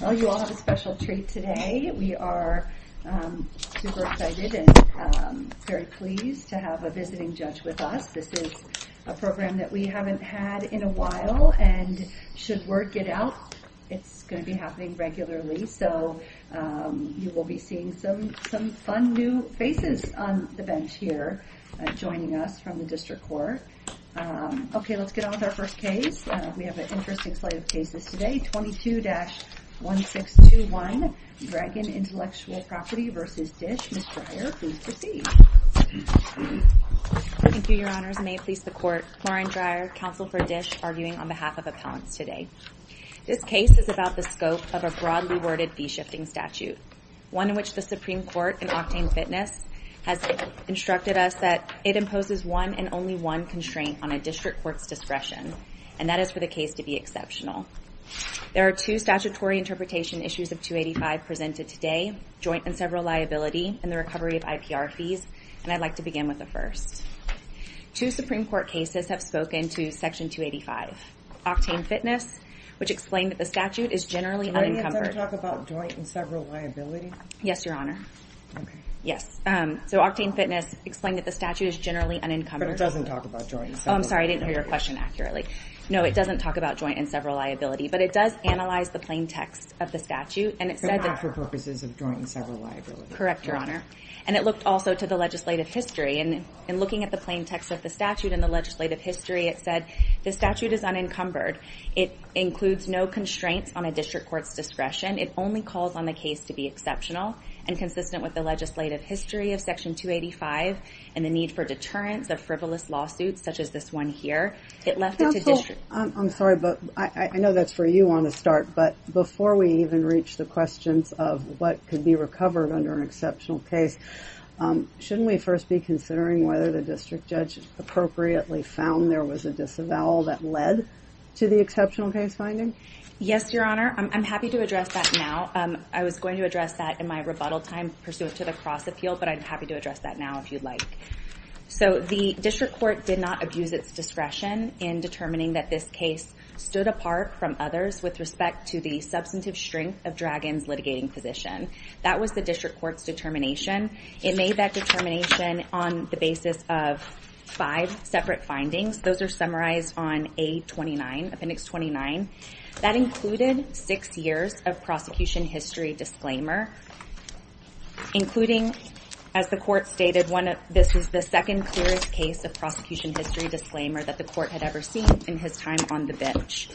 Well, you all have a special treat today. We are super excited and very pleased to have a visiting judge with us. This is a program that we haven't had in a while and should word get out, it's going to be happening regularly. So you will be seeing some some fun new faces on the bench here joining us from the district court. Okay, let's get on with our first case. We have an interesting slate of cases today. 22-1621, Dragon Intellectual Property v. DISH. Ms. Dreyer, please proceed. Thank you, your honors. May it please the court. Lauren Dreyer, counsel for DISH, arguing on behalf of appellants today. This case is about the scope of a broadly worded fee shifting statute, one in which the Supreme Court and Octane Fitness has instructed us that it imposes one and only one constraint on a district court's discretion. And that is for the case to be exceptional. There are two statutory interpretation issues of 285 presented today, joint and several liability, and the recovery of IPR fees, and I'd like to begin with the first. Two Supreme Court cases have spoken to Section 285. Octane Fitness, which explained that the statute is generally unencumbered. Does that talk about joint and several liability? Yes, your honor. Okay. Yes. So Octane Fitness explained that the statute is generally unencumbered. But it doesn't talk about joint and several liability. Oh, I'm sorry, I didn't hear your question accurately. No, it doesn't talk about joint and several liability, but it does analyze the plain text of the statute and it said that... But not for purposes of joint and several liability. Correct, your honor. And it looked also to the legislative history, and in looking at the plain text of the statute and the legislative history, it said the statute is unencumbered. It includes no constraints on a district court's discretion. It only calls on the case to be exceptional and consistent with the legislative history of Section 285 and the need for deterrence of frivolous lawsuits such as this one here. I'm sorry, but I know that's where you want to start. But before we even reach the questions of what could be recovered under an exceptional case, shouldn't we first be considering whether the district judge appropriately found there was a disavowal that led to the exceptional case finding? Yes, your honor. I'm happy to address that now. I was going to address that in my rebuttal time pursuant to the Cross Appeal, but I'm happy to address that now if you'd like. So the district court did not abuse its discretion in determining that this case stood apart from others with respect to the substantive strength of Dragon's litigating position. That was the district court's determination. It made that determination on the basis of five separate findings. Those are summarized on A29, Appendix 29. That included six years of prosecution history disclaimer, including, as the court stated, this is the second clearest case of prosecution history disclaimer that the court had ever seen in his time on the bench.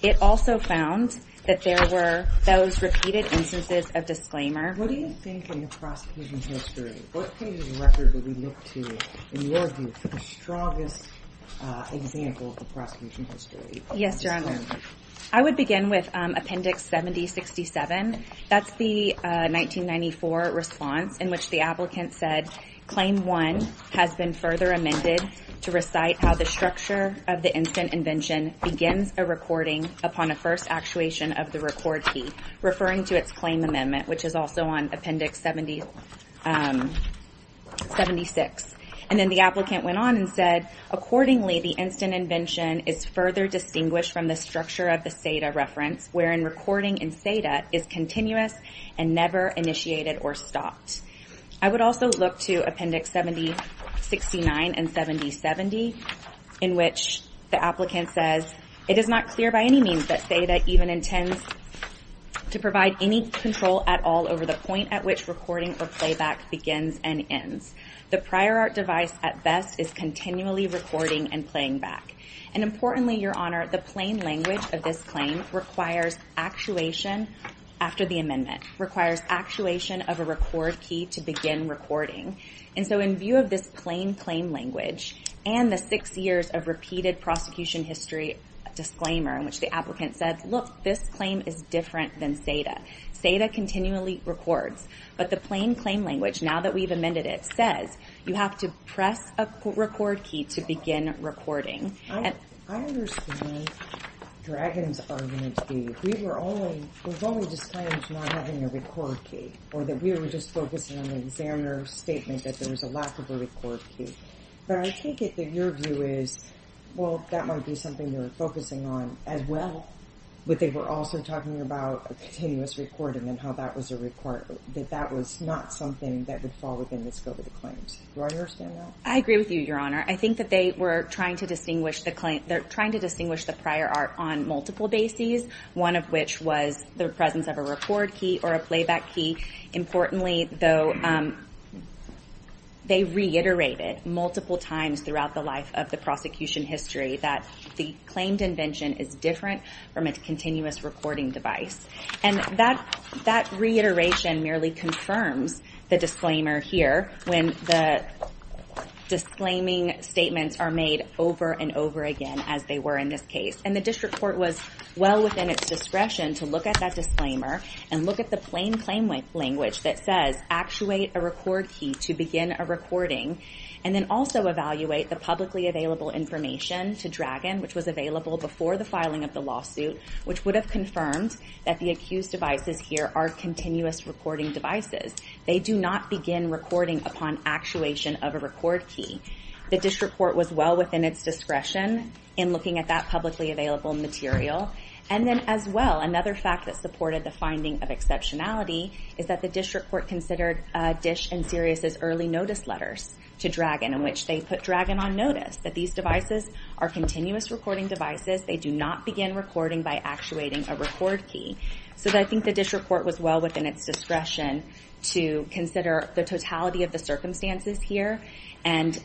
It also found that there were those repeated instances of disclaimer. What do you think of the prosecution history? What page of the record would we look to, in your view, for the strongest example of the prosecution history? Yes, your honor. I would begin with Appendix 7067. That's the 1994 response in which the applicant said, Claim 1 has been further amended to recite how the structure of the instant invention begins a recording upon a first actuation of the record key, referring to its claim amendment, which is also on Appendix 76. And then the applicant went on and said, Accordingly, the instant invention is further distinguished from the structure of the SEDA reference, wherein recording in SEDA is continuous and never initiated or stopped. I would also look to Appendix 7069 and 7070, in which the applicant says, It is not clear by any means that SEDA even intends to provide any control at all over the point at which recording or playback begins and ends. The prior art device at best is continually recording and playing back. And importantly, your honor, the plain language of this claim requires actuation after the amendment, requires actuation of a record key to begin recording. And so in view of this plain claim language and the six years of repeated prosecution history disclaimer in which the applicant said, Look, this claim is different than SEDA. SEDA continually records. But the plain claim language, now that we've amended it, says you have to press a record key to begin recording. But I take it that your view is, well, that might be something you're focusing on as well. But they were also talking about a continuous recording and how that was a requirement that that was not something that would fall within the scope of the claims. I understand that. I agree with you, your honor. I think that they were trying to distinguish the prior art on multiple bases, one of which was the presence of a record key or a playback key. Importantly, though, they reiterated multiple times throughout the life of the prosecution history that the claimed invention is different from a continuous recording device. And that reiteration merely confirms the disclaimer here when the disclaiming statements are made over and over again, as they were in this case. And the district court was well within its discretion to look at that disclaimer and look at the plain claim language that says actuate a record key to begin a recording. And then also evaluate the publicly available information to Dragon, which was available before the filing of the lawsuit, which would have confirmed that the accused devices here are continuous recording devices. They do not begin recording upon actuation of a record key. The district court was well within its discretion in looking at that publicly available material. And then as well, another fact that supported the finding of exceptionality is that the district court considered Dish and Sirius's early notice letters to Dragon, in which they put Dragon on notice that these devices are continuous recording devices. They do not begin recording by actuating a record key. So I think the district court was well within its discretion to consider the totality of the circumstances here and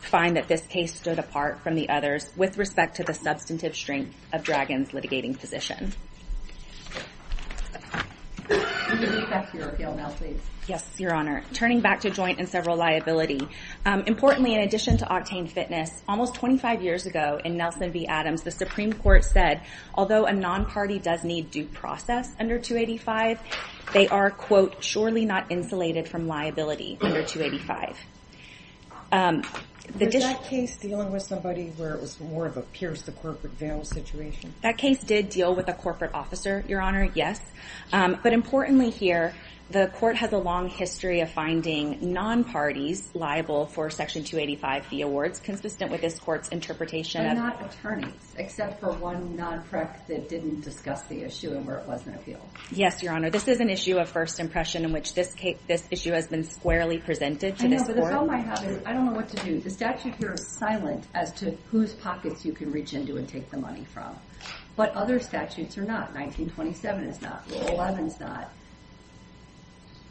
find that this case stood apart from the others with respect to the substantive strength of Dragon's litigating position. Yes, Your Honor. Turning back to joint and several liability. Importantly, in addition to Octane Fitness, almost 25 years ago in Nelson v. Adams, the Supreme Court said, although a non-party does need due process under 285, they are, quote, surely not insulated from liability under 285. Was that case dealing with somebody where it was more of a pierce the corporate veil situation? That case did deal with a corporate officer, Your Honor, yes. But importantly here, the court has a long history of finding non-parties liable for Section 285 fee awards consistent with this court's interpretation of- And not attorneys, except for one non-prec that didn't discuss the issue and where it was an appeal. Yes, Your Honor. This is an issue of first impression in which this issue has been squarely presented to this court. I know, but the problem I have is I don't know what to do. The statute here is silent as to whose pockets you can reach into and take the money from. But other statutes are not. 1927 is not. 11 is not.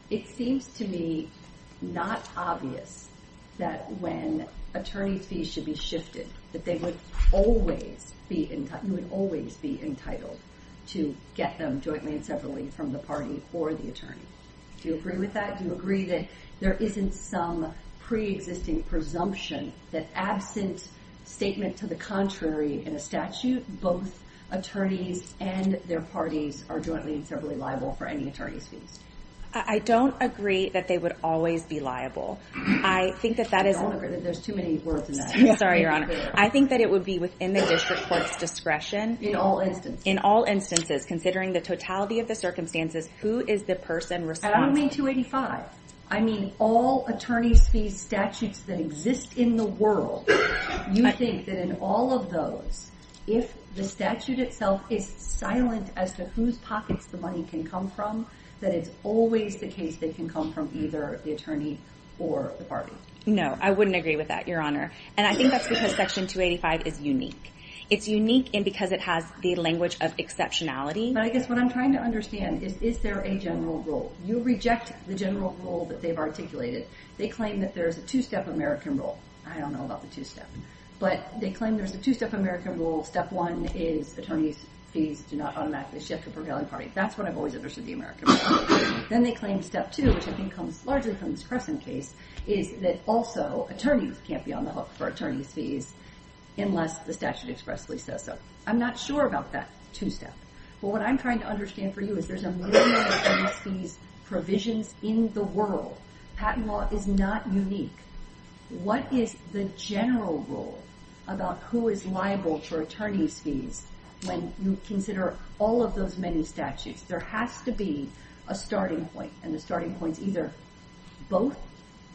It seems to me not obvious that when attorney fees should be shifted, that they would always be entitled to get them jointly and separately from the party or the attorney. Do you agree with that? Do you agree that there isn't some pre-existing presumption that absent statement to the contrary in a statute, both attorneys and their parties are jointly and separately liable for any attorney's fees? I don't agree that they would always be liable. I think that that is- There's too many words in that. Sorry, Your Honor. I think that it would be within the district court's discretion- In all instances. In all instances, considering the totality of the circumstances, who is the person responsible? You mean 285? I mean all attorney's fees statutes that exist in the world. You think that in all of those, if the statute itself is silent as to whose pockets the money can come from, that it's always the case that it can come from either the attorney or the party? No, I wouldn't agree with that, Your Honor. And I think that's because Section 285 is unique. It's unique because it has the language of exceptionality. But I guess what I'm trying to understand is, is there a general rule? You reject the general rule that they've articulated. They claim that there's a two-step American rule. I don't know about the two-step. But they claim there's a two-step American rule. Step one is attorneys' fees do not automatically shift to a prevailing party. That's what I've always understood the American rule. Then they claim step two, which I think comes largely from this Crescent case, is that also attorneys can't be on the hook for attorney's fees unless the statute expressly says so. I'm not sure about that two-step. But what I'm trying to understand for you is there's a million attorney's fees provisions in the world. Patent law is not unique. What is the general rule about who is liable for attorney's fees when you consider all of those many statutes? There has to be a starting point. And the starting point is either both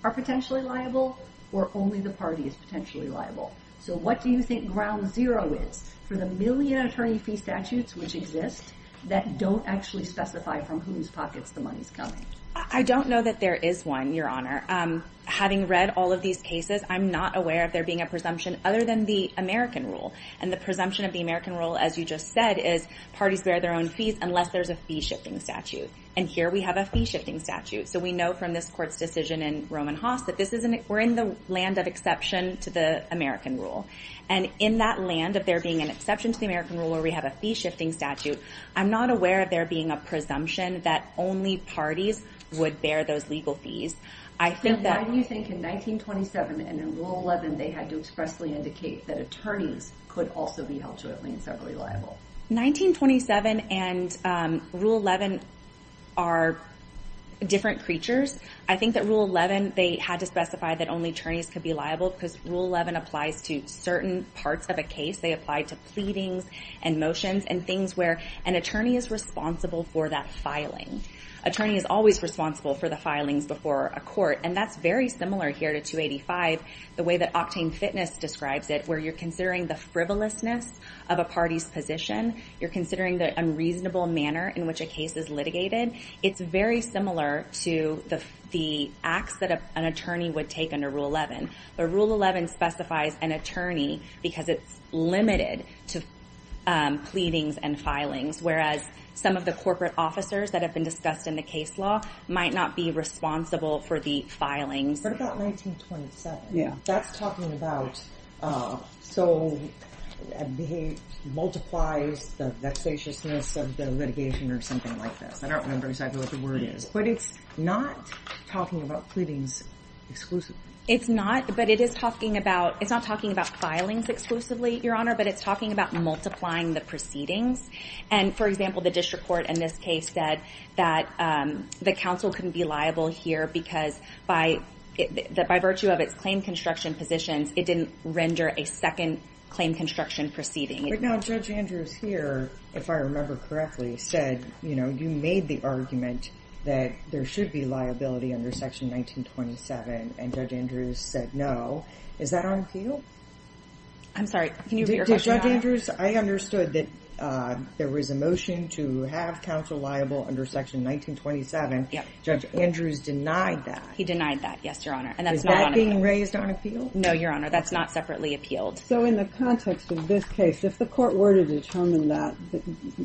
are potentially liable or only the party is potentially liable. So what do you think ground zero is for the million attorney fee statutes which exist that don't actually specify from whose pockets the money is coming? I don't know that there is one, Your Honor. Having read all of these cases, I'm not aware of there being a presumption other than the American rule. And the presumption of the American rule, as you just said, is parties bear their own fees unless there's a fee-shifting statute. And here we have a fee-shifting statute. So we know from this court's decision in Roman Haas that we're in the land of exception to the American rule. And in that land of there being an exception to the American rule where we have a fee-shifting statute, I'm not aware of there being a presumption that only parties would bear those legal fees. Why do you think in 1927 and in Rule 11 they had to expressly indicate that attorneys could also be held jointly and separately liable? 1927 and Rule 11 are different creatures. I think that Rule 11, they had to specify that only attorneys could be liable because Rule 11 applies to certain parts of a case. They apply to pleadings and motions and things where an attorney is responsible for that filing. Attorney is always responsible for the filings before a court. And that's very similar here to 285, the way that Octane Fitness describes it, where you're considering the frivolousness of a party's position. You're considering the unreasonable manner in which a case is litigated. It's very similar to the acts that an attorney would take under Rule 11. But Rule 11 specifies an attorney because it's limited to pleadings and filings, whereas some of the corporate officers that have been discussed in the case law might not be responsible for the filings. But about 1927, that's talking about, so it multiplies the vexatiousness of the litigation or something like this. I don't remember exactly what the word is, but it's not talking about pleadings exclusively. It's not, but it is talking about, it's not talking about filings exclusively, Your Honor, but it's talking about multiplying the proceedings. And for example, the district court in this case said that the counsel couldn't be liable here because by virtue of its claim construction positions, it didn't render a second claim construction proceeding. Right now, Judge Andrews here, if I remember correctly, said, you know, you made the argument that there should be liability under Section 1927, and Judge Andrews said no. Is that on appeal? I'm sorry, can you repeat your question, Your Honor? Judge Andrews, I understood that there was a motion to have counsel liable under Section 1927. Judge Andrews denied that. He denied that, yes, Your Honor, and that's not on appeal. Is that being raised on appeal? No, Your Honor, that's not separately appealed. So in the context of this case, if the court were to determine that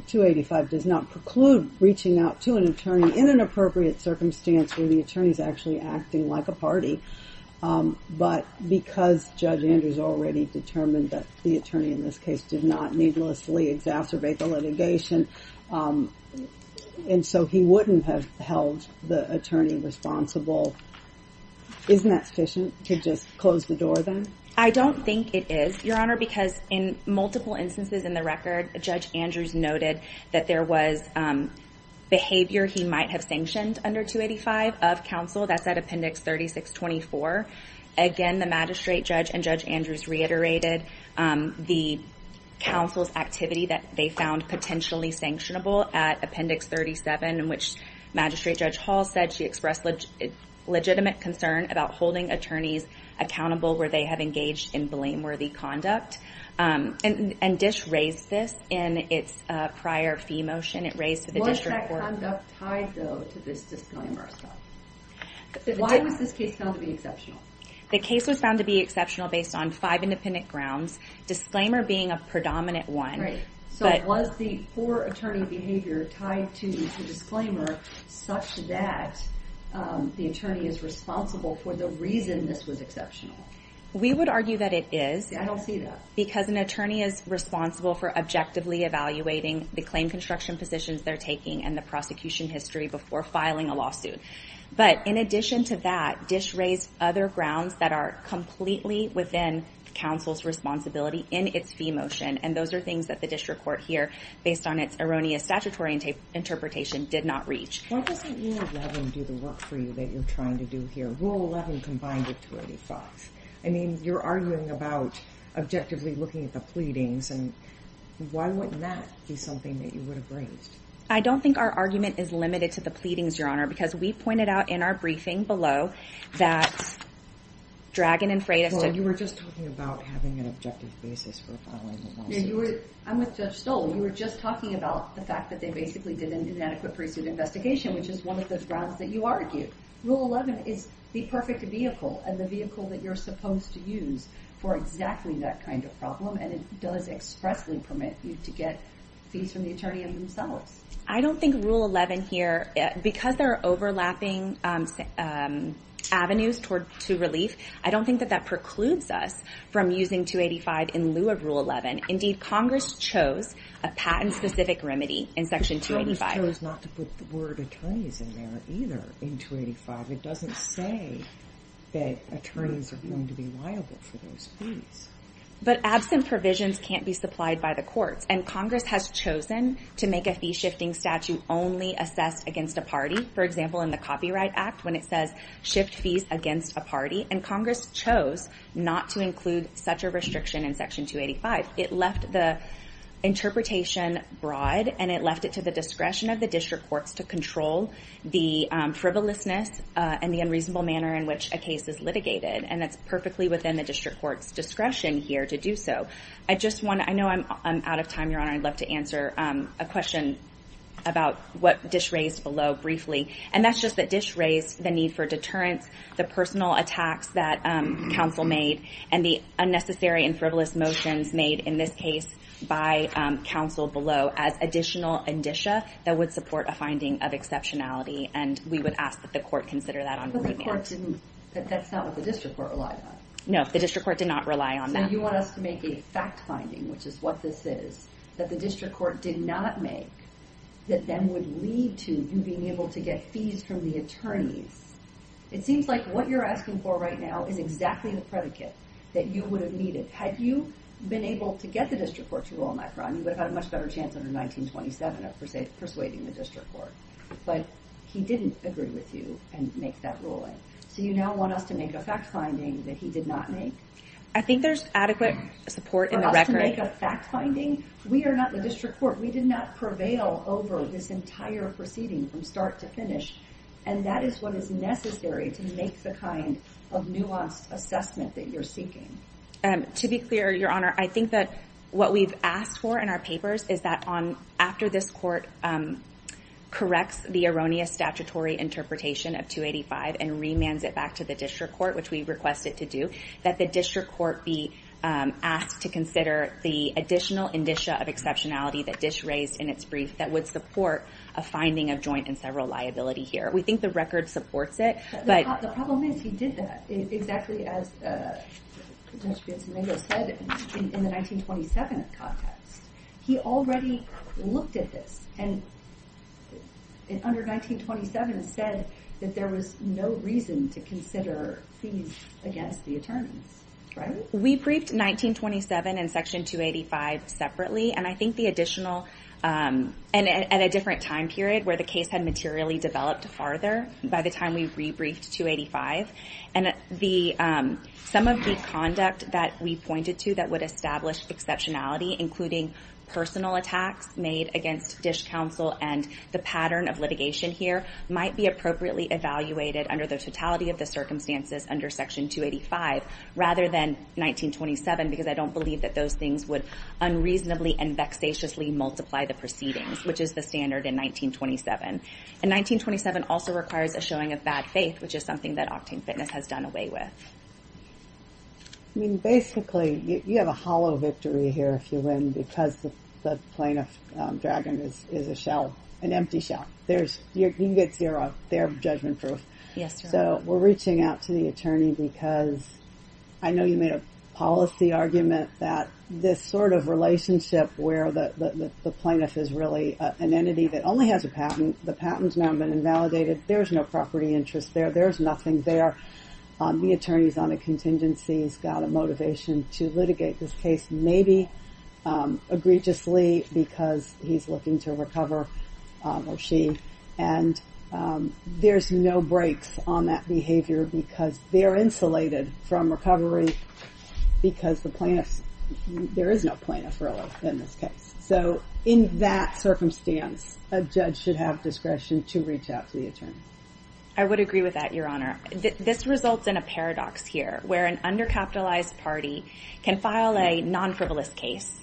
285 does not preclude reaching out to an attorney in an appropriate circumstance where the attorney is actually acting like a party, but because Judge Andrews already determined that the attorney in this case did not needlessly exacerbate the litigation, and so he wouldn't have held the attorney responsible, isn't that sufficient to just close the door then? I don't think it is, Your Honor, because in multiple instances in the record, Judge Andrews noted that there was behavior he might have sanctioned under 285 of counsel. That's at Appendix 3624. Again, the magistrate judge and Judge Andrews reiterated the counsel's activity that they found potentially sanctionable at Appendix 37, in which Magistrate Judge Hall said she expressed legitimate concern about holding attorneys accountable where they have engaged in blameworthy conduct, and Dish raised this in its prior fee motion. Was that conduct tied, though, to this disclaimer? Why was this case found to be exceptional? The case was found to be exceptional based on five independent grounds, disclaimer being a predominant one. Was the poor attorney behavior tied to the disclaimer such that the attorney is responsible for the reason this was exceptional? We would argue that it is. I don't see that. Because an attorney is responsible for objectively evaluating the claim construction positions they're taking and the prosecution history before filing a lawsuit. But in addition to that, Dish raised other grounds that are completely within counsel's responsibility in its fee motion, and those are things that the district court here, based on its erroneous statutory interpretation, did not reach. Why doesn't Rule 11 do the work for you that you're trying to do here? Rule 11 combined with 285. I mean, you're arguing about objectively looking at the pleadings, and why wouldn't that be something that you would have raised? I don't think our argument is limited to the pleadings, Your Honor, because we pointed out in our briefing below that Dragon and Freitas did. Well, you were just talking about having an objective basis for filing a lawsuit. I'm with Judge Stoll. You were just talking about the fact that they basically did an inadequate pre-suit investigation, which is one of those grounds that you argue. Rule 11 is the perfect vehicle and the vehicle that you're supposed to use for exactly that kind of problem, and it does expressly permit you to get fees from the attorney and themselves. I don't think Rule 11 here, because there are overlapping avenues to relief, I don't think that that precludes us from using 285 in lieu of Rule 11. Indeed, Congress chose a patent-specific remedy in Section 285. Congress chose not to put the word attorneys in there either in 285. It doesn't say that attorneys are going to be liable for those fees. But absent provisions can't be supplied by the courts, and Congress has chosen to make a fee-shifting statute only assessed against a party. For example, in the Copyright Act, when it says shift fees against a party, and Congress chose not to include such a restriction in Section 285. It left the interpretation broad, and it left it to the discretion of the district courts to control the frivolousness and the unreasonable manner in which a case is litigated. And that's perfectly within the district court's discretion here to do so. I know I'm out of time, Your Honor. I'd love to answer a question about what Dish raised below briefly. And that's just that Dish raised the need for deterrence, the personal attacks that counsel made, and the unnecessary and frivolous motions made in this case by counsel below as additional indicia that would support a finding of exceptionality. And we would ask that the court consider that on rebate. But the court didn't – that's not what the district court relied on. No, the district court did not rely on that. So you want us to make a fact finding, which is what this is, that the district court did not make that then would lead to you being able to get fees from the attorneys. It seems like what you're asking for right now is exactly the predicate that you would have needed. Had you been able to get the district court to rule on that crime, you would have had a much better chance under 1927 of persuading the district court. But he didn't agree with you and make that ruling. So you now want us to make a fact finding that he did not make? I think there's adequate support in the record. For us to make a fact finding? We are not the district court. We did not prevail over this entire proceeding from start to finish. And that is what is necessary to make the kind of nuanced assessment that you're seeking. To be clear, Your Honor, I think that what we've asked for in our papers is that after this court corrects the erroneous statutory interpretation of 285 and remands it back to the district court, which we request it to do, that the district court be asked to consider the additional indicia of exceptionality that Dish raised in its brief that would support a finding of joint and several liability here. We think the record supports it. But the problem is he did that exactly as Judge Piazzolingo said in the 1927 context. He already looked at this and under 1927 said that there was no reason to consider fees against the attorneys. We briefed 1927 and Section 285 separately. And I think the additional and at a different time period where the case had materially developed farther by the time we re-briefed 285. And some of the conduct that we pointed to that would establish exceptionality, including personal attacks made against Dish Counsel and the pattern of litigation here, might be appropriately evaluated under the totality of the circumstances under Section 285 rather than 1927. Because I don't believe that those things would unreasonably and vexatiously multiply the proceedings, which is the standard in 1927. And 1927 also requires a showing of bad faith, which is something that Octane Fitness has done away with. I mean, basically, you have a hollow victory here if you win because the plaintiff dragon is a shell, an empty shell. You get zero. They're judgment-proof. So we're reaching out to the attorney because I know you made a policy argument that this sort of relationship where the plaintiff is really an entity that only has a patent. The patent's now been invalidated. There's no property interest there. There's nothing there. The attorney's on a contingency. He's got a motivation to litigate this case, maybe egregiously because he's looking to recover, or she. And there's no brakes on that behavior because they're insulated from recovery because the plaintiff's – there is no plaintiff, really, in this case. So in that circumstance, a judge should have discretion to reach out to the attorney. I would agree with that, Your Honor. This results in a paradox here where an undercapitalized party can file a non-frivolous case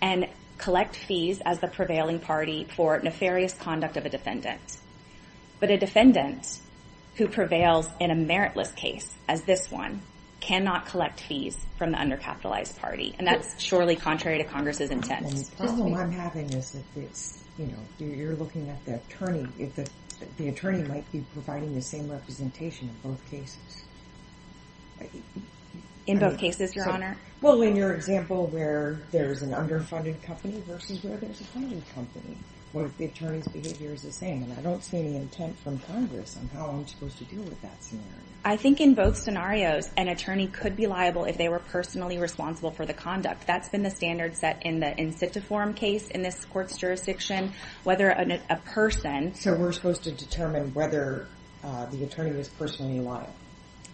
and collect fees as the prevailing party for nefarious conduct of a defendant. But a defendant who prevails in a meritless case as this one cannot collect fees from the undercapitalized party, and that's surely contrary to Congress's intent. And the problem I'm having is that it's – you're looking at the attorney. The attorney might be providing the same representation in both cases. In both cases, Your Honor? Well, in your example where there's an underfunded company versus where there's a funded company, where the attorney's behavior is the same. And I don't see any intent from Congress on how I'm supposed to deal with that scenario. I think in both scenarios, an attorney could be liable if they were personally responsible for the conduct. That's been the standard set in the in situ forum case in this court's jurisdiction, whether a person – So we're supposed to determine whether the attorney is personally liable?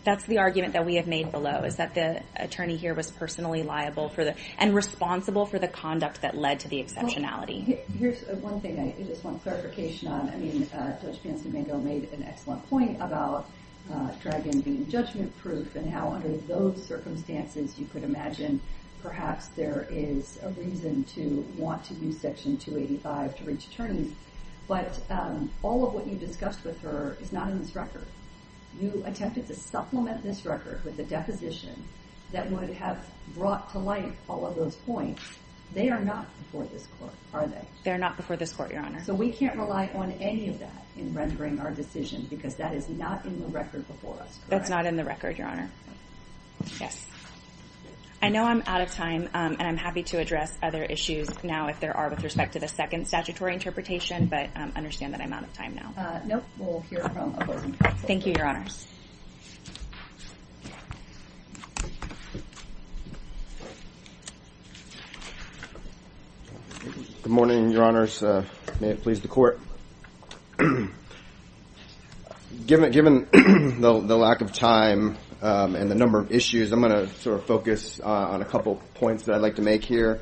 That's the argument that we have made below, is that the attorney here was personally liable and responsible for the conduct that led to the exceptionality. Here's one thing I just want clarification on. I mean, Judge Fancy Mando made an excellent point about Dragan being judgment-proof and how under those circumstances you could imagine perhaps there is a reason to want to use Section 285 to reach attorneys. But all of what you discussed with her is not in this record. You attempted to supplement this record with a deposition that would have brought to light all of those points. They are not before this court, are they? They're not before this court, Your Honor. So we can't rely on any of that in rendering our decision because that is not in the record before us, correct? That's not in the record, Your Honor. Yes. I know I'm out of time, and I'm happy to address other issues now if there are with respect to the second statutory interpretation, but understand that I'm out of time now. Nope. We'll hear from opposing counsel. Thank you, Your Honors. Good morning, Your Honors. May it please the Court. Given the lack of time and the number of issues, I'm going to sort of focus on a couple points that I'd like to make here.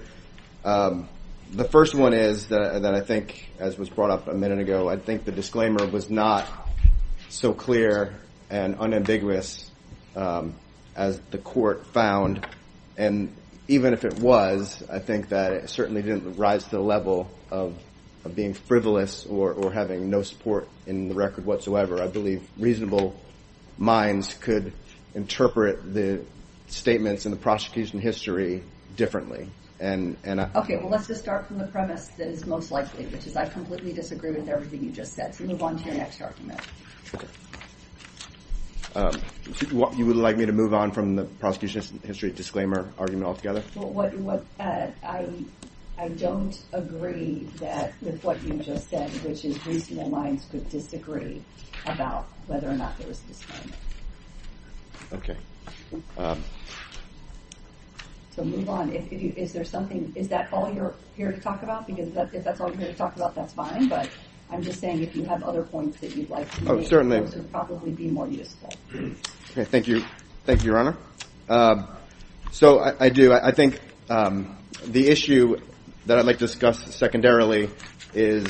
The first one is that I think, as was brought up a minute ago, I think the disclaimer was not so clear and unambiguous as the court found. And even if it was, I think that it certainly didn't rise to the level of being frivolous or having no support in the record whatsoever. I believe reasonable minds could interpret the statements in the prosecution history differently. Okay. Well, let's just start from the premise that is most likely, which is I completely disagree with everything you just said. So move on to your next argument. You would like me to move on from the prosecution history disclaimer argument altogether? I don't agree with what you just said, which is reasonable minds could disagree about whether or not there was a disclaimer. Okay. So move on. Is that all you're here to talk about? Because if that's all you're here to talk about, that's fine. But I'm just saying if you have other points that you'd like to make, those would probably be more useful. Thank you. Thank you, Your Honor. So I do. I think the issue that I'd like to discuss secondarily is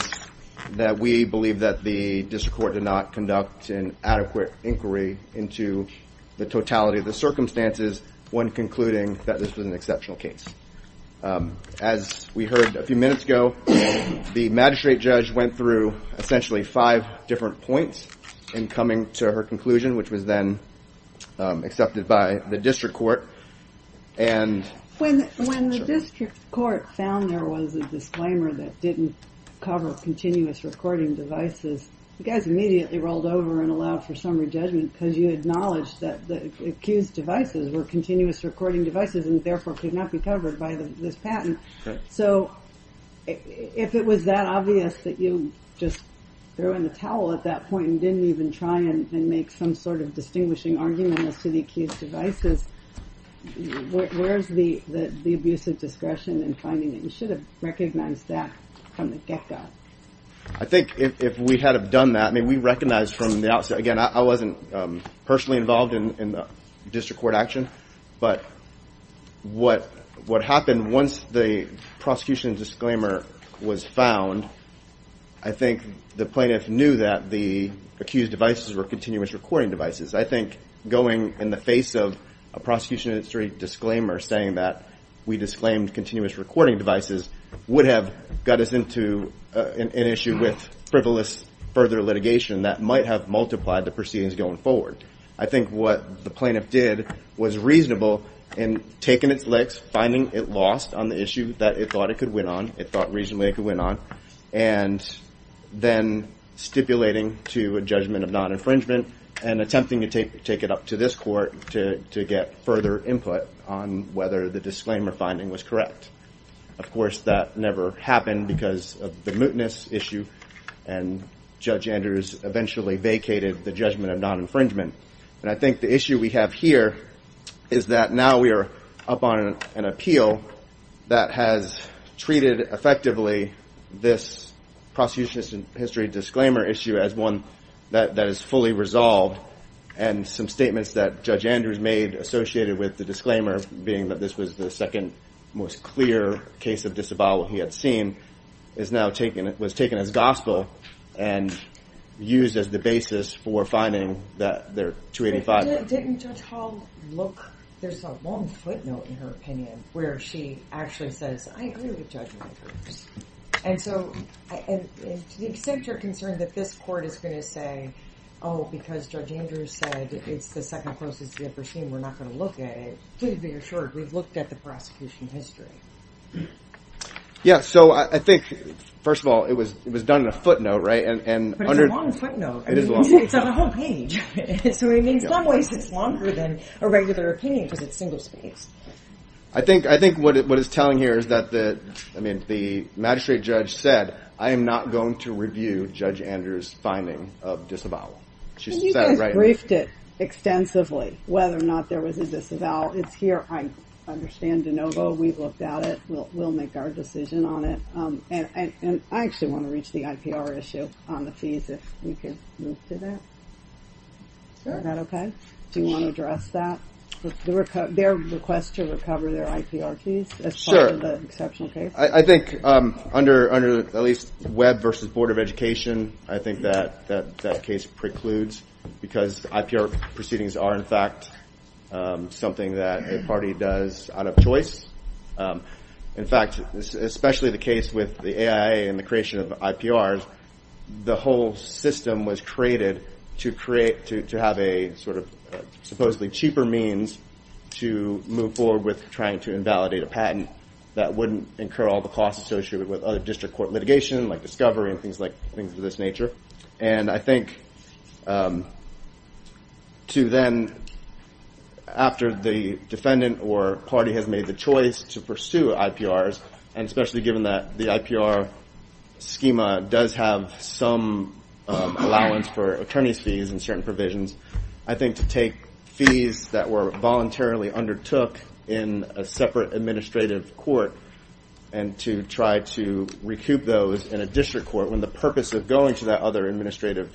that we believe that the district court did not conduct an adequate inquiry into the totality of the circumstances when concluding that this was an exceptional case. As we heard a few minutes ago, the magistrate judge went through essentially five different points in coming to her conclusion, which was then accepted by the district court. When the district court found there was a disclaimer that didn't cover continuous recording devices, the guys immediately rolled over and allowed for summary judgment because you acknowledged that the accused devices were continuous recording devices and therefore could not be covered by this patent. So if it was that obvious that you just threw in the towel at that point and didn't even try and make some sort of distinguishing argument as to the accused devices, where's the abuse of discretion in finding that you should have recognized that from the get-go? I think if we had have done that, I mean, we recognized from the outset, again, I wasn't personally involved in the district court action, but what happened once the prosecution disclaimer was found, I think the plaintiff knew that the accused devices were continuous recording devices. I think going in the face of a prosecution history disclaimer saying that we disclaimed continuous recording devices would have got us into an issue with frivolous further litigation that might have multiplied the proceedings going forward. I think what the plaintiff did was reasonable in taking its legs, finding it lost on the issue that it thought it could win on, it thought reasonably it could win on, and then stipulating to a judgment of non-infringement and attempting to take it up to this court to get further input on whether the disclaimer finding was correct. Of course, that never happened because of the mootness issue, and Judge Andrews eventually vacated the judgment of non-infringement. I think the issue we have here is that now we are up on an appeal that has treated effectively this prosecution history disclaimer issue as one that is fully resolved, and some statements that Judge Andrews made associated with the disclaimer, being that this was the second most clear case of disavowal he had seen, was taken as gospel and used as the basis for finding their 285. Didn't Judge Hall look, there's a long footnote in her opinion where she actually says, I agree with Judge Andrews. And so, to the extent you're concerned that this court is going to say, oh, because Judge Andrews said it's the second closest we've ever seen, we're not going to look at it, please be assured we've looked at the prosecution history. Yeah, so I think, first of all, it was done in a footnote, right? But it's a long footnote. It is a long footnote. It's on a whole page, so in some ways it's longer than a regular opinion because it's single spaced. I think what it's telling here is that the magistrate judge said, I am not going to review Judge Andrews' finding of disavowal. And you guys briefed it extensively, whether or not there was a disavowal. Well, it's here. I understand DeNovo. We've looked at it. We'll make our decision on it. And I actually want to reach the IPR issue on the fees if we can move to that. Sure. Is that okay? Do you want to address that, their request to recover their IPR fees as part of the exceptional case? In fact, especially the case with the AIA and the creation of IPRs, the whole system was created to have a sort of supposedly cheaper means to move forward with trying to invalidate a patent that wouldn't incur all the costs associated with other district court litigation, like discovery and things of this nature. And I think to then, after the defendant or party has made the choice to pursue IPRs, and especially given that the IPR schema does have some allowance for attorney's fees and certain provisions, I think to take fees that were voluntarily undertook in a separate administrative court and to try to recoup those in a district court, when the purpose of going to that other administrative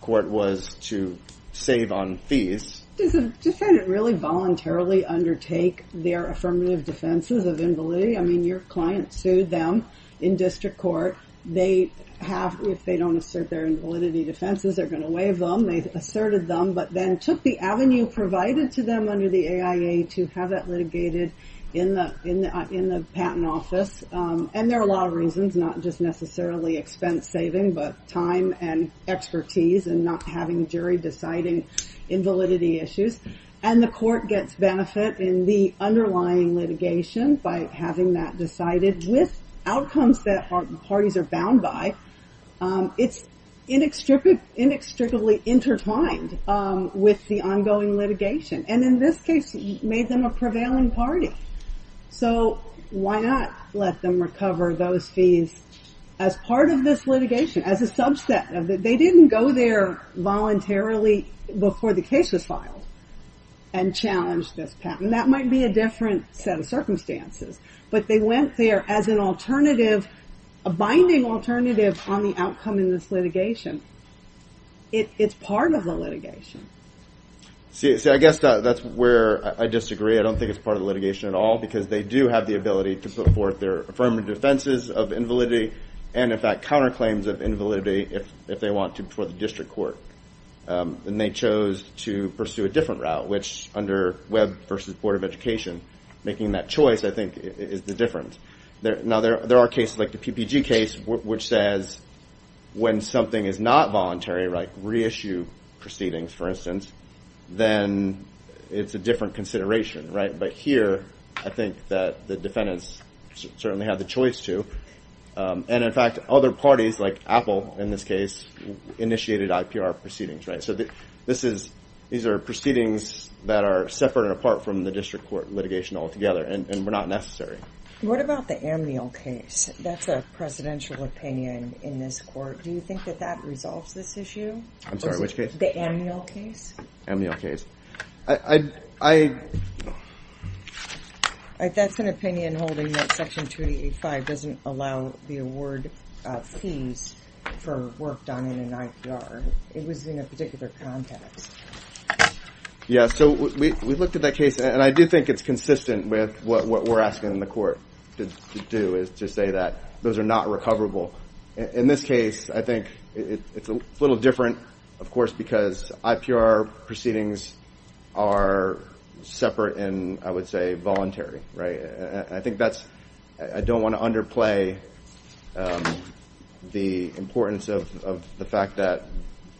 court was to save on fees. Does the defendant really voluntarily undertake their affirmative defenses of invalidity? I mean, your client sued them in district court. They have, if they don't assert their invalidity defenses, they're going to waive them. They asserted them but then took the avenue provided to them under the AIA to have that litigated in the patent office. And there are a lot of reasons, not just necessarily expense saving, but time and expertise and not having jury deciding invalidity issues. And the court gets benefit in the underlying litigation by having that decided with outcomes that parties are bound by. It's inextricably intertwined with the ongoing litigation. And in this case, it made them a prevailing party. So why not let them recover those fees as part of this litigation, as a subset? They didn't go there voluntarily before the case was filed and challenge this patent. That might be a different set of circumstances. But they went there as an alternative, a binding alternative on the outcome in this litigation. It's part of the litigation. See, I guess that's where I disagree. I don't think it's part of the litigation at all because they do have the ability to put forth their affirmative defenses of invalidity. And, in fact, counterclaims of invalidity if they want to before the district court. And they chose to pursue a different route, which under Webb versus Board of Education, making that choice, I think, is the difference. Now, there are cases like the PPG case, which says when something is not voluntary, reissue proceedings, for instance. Then it's a different consideration. But here, I think that the defendants certainly have the choice to. And, in fact, other parties like Apple, in this case, initiated IPR proceedings. So these are proceedings that are separate and apart from the district court litigation altogether. And we're not necessary. What about the Amniel case? That's a presidential opinion in this court. Do you think that that resolves this issue? I'm sorry, which case? The Amniel case. Amniel case. That's an opinion holding that Section 285 doesn't allow the award fees for work done in an IPR. It was in a particular context. Yeah, so we looked at that case. And I do think it's consistent with what we're asking the court to do, is to say that those are not recoverable. In this case, I think it's a little different, of course, because IPR proceedings are separate and, I would say, voluntary. I don't want to underplay the importance of the fact that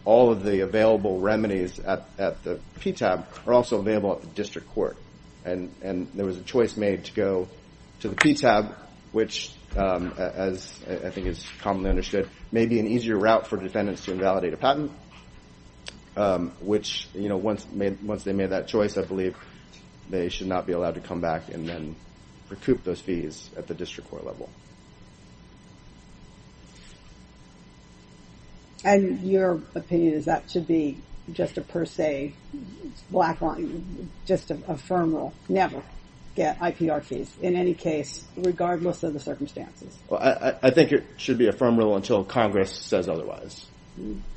all of the available remedies at the PTAB are also available at the district court. And there was a choice made to go to the PTAB, which, as I think is commonly understood, may be an easier route for defendants to invalidate a patent. Which, once they made that choice, I believe they should not be allowed to come back and then recoup those fees at the district court level. And your opinion is that should be just a per se, black line, just a firm rule, never get IPR fees in any case, regardless of the circumstances? I think it should be a firm rule until Congress says otherwise.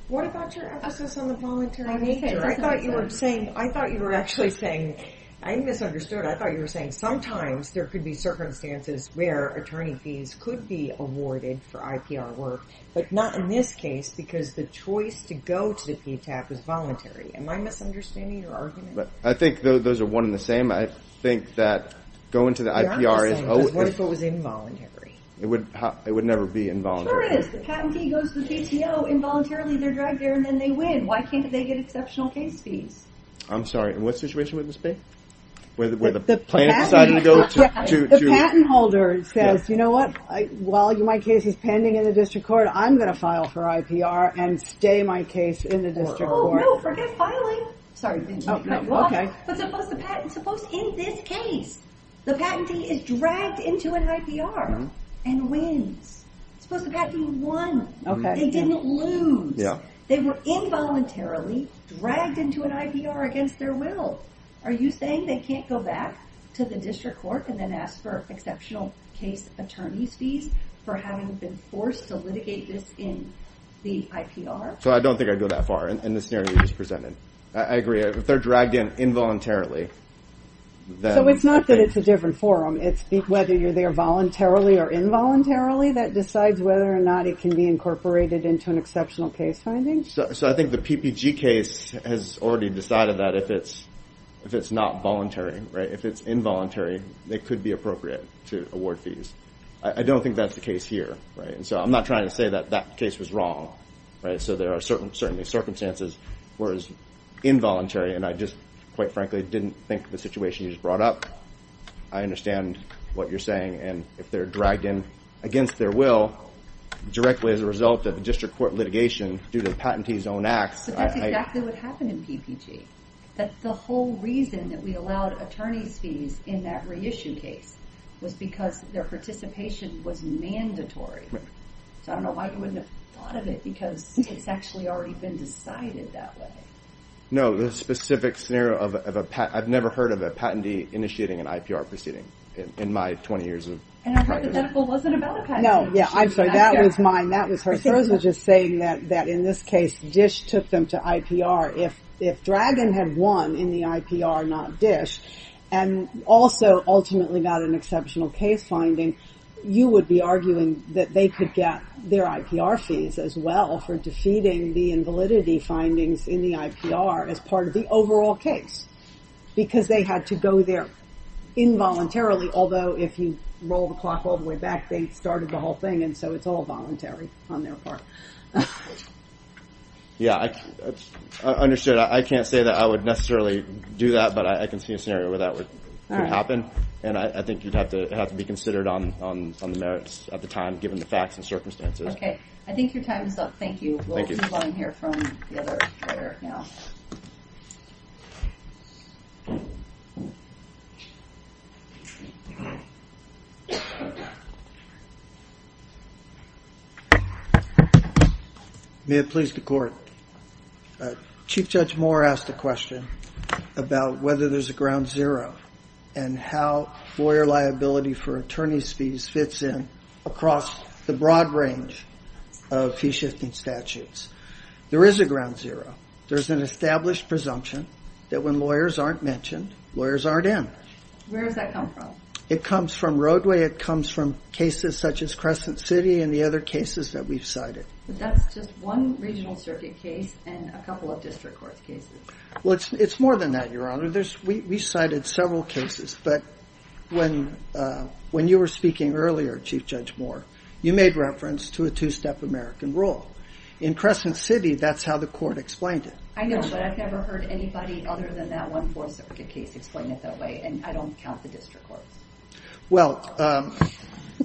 What about your emphasis on the voluntary nature? I thought you were saying, I thought you were actually saying, I misunderstood. I thought you were saying sometimes there could be circumstances where attorney fees could be awarded for IPR work, but not in this case, because the choice to go to the PTAB was voluntary. Am I misunderstanding your argument? I think those are one and the same. I think that going to the IPR is always... Yeah, I'm just saying, what if it was involuntary? It would never be involuntary. It sure is. The patentee goes to the PTO involuntarily, they're dragged there, and then they win. Why can't they get exceptional case fees? I'm sorry, in what situation would this be? The patent holder says, you know what, while my case is pending in the district court, I'm going to file for IPR and stay my case in the district court. Oh no, forget filing! Sorry, didn't mean to cut you off. But suppose in this case, the patentee is dragged into an IPR and wins. Suppose the patentee won, they didn't lose. They were involuntarily dragged into an IPR against their will. Are you saying they can't go back to the district court and then ask for exceptional case attorney fees for having been forced to litigate this in the IPR? So I don't think I'd go that far in the scenario you just presented. I agree, if they're dragged in involuntarily. So it's not that it's a different forum, it's whether you're there voluntarily or involuntarily that decides whether or not it can be incorporated into an exceptional case finding? So I think the PPG case has already decided that if it's not voluntary, if it's involuntary, it could be appropriate to award fees. I don't think that's the case here. So I'm not trying to say that that case was wrong. So there are certainly circumstances where it's involuntary, and I just, quite frankly, didn't think the situation you just brought up. I understand what you're saying, and if they're dragged in against their will directly as a result of the district court litigation due to the patentee's own acts. But that's exactly what happened in PPG. But the whole reason that we allowed attorney's fees in that reissue case was because their participation was mandatory. So I don't know why you wouldn't have thought of it, because it's actually already been decided that way. No, the specific scenario of a patent, I've never heard of a patentee initiating an IPR proceeding in my 20 years of practice. And I heard that that wasn't about a patentee. No, yeah, I'm sorry, that was mine, that was hers. I was just saying that in this case, DISH took them to IPR. If Dragon had won in the IPR, not DISH, and also ultimately got an exceptional case finding, you would be arguing that they could get their IPR fees as well for defeating the invalidity findings in the IPR as part of the overall case. Because they had to go there involuntarily, although if you roll the clock all the way back, they started the whole thing, and so it's all voluntary on their part. Yeah, I understood. I can't say that I would necessarily do that, but I can see a scenario where that would happen. And I think you'd have to be considered on the merits at the time, given the facts and circumstances. Okay, I think your time is up. Thank you. Thank you. We'll move on here from the other player now. May it please the Court. Chief Judge Moore asked a question about whether there's a ground zero, and how lawyer liability for attorney's fees fits in across the broad range of fee-shifting statutes. There is a ground zero. There's an established presumption that when lawyers aren't mentioned, lawyers aren't in. Where does that come from? It comes from roadway. It comes from cases such as Crescent City and the other cases that we've cited. But that's just one regional circuit case and a couple of district court cases. Well, it's more than that, Your Honor. We cited several cases, but when you were speaking earlier, Chief Judge Moore, you made reference to a two-step American rule. In Crescent City, that's how the Court explained it. I know, but I've never heard anybody other than that one fourth circuit case explain it that way. And I don't count the district courts. Well,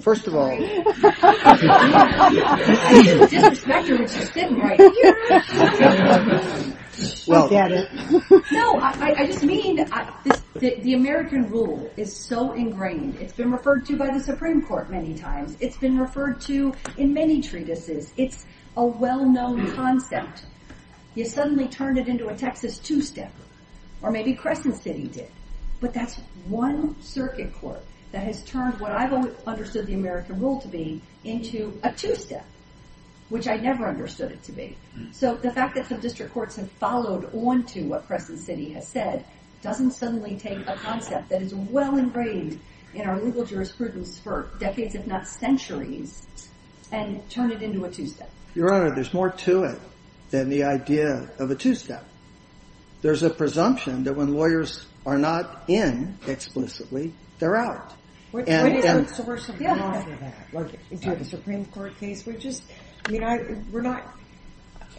first of all... I didn't disrespect her, which is good, right? I get it. No, I just mean the American rule is so ingrained. It's been referred to by the Supreme Court many times. It's been referred to in many treatises. It's a well-known concept. You suddenly turn it into a Texas two-step, or maybe Crescent City did. But that's one circuit court that has turned what I've understood the American rule to be into a two-step, which I never understood it to be. So the fact that some district courts have followed on to what Crescent City has said doesn't suddenly take a concept that is well ingrained in our legal jurisprudence for decades, if not centuries, and turn it into a two-step. Your Honor, there's more to it than the idea of a two-step. There's a presumption that when lawyers are not in explicitly, they're out. What is the worst outcome of that? Do you have a Supreme Court case? I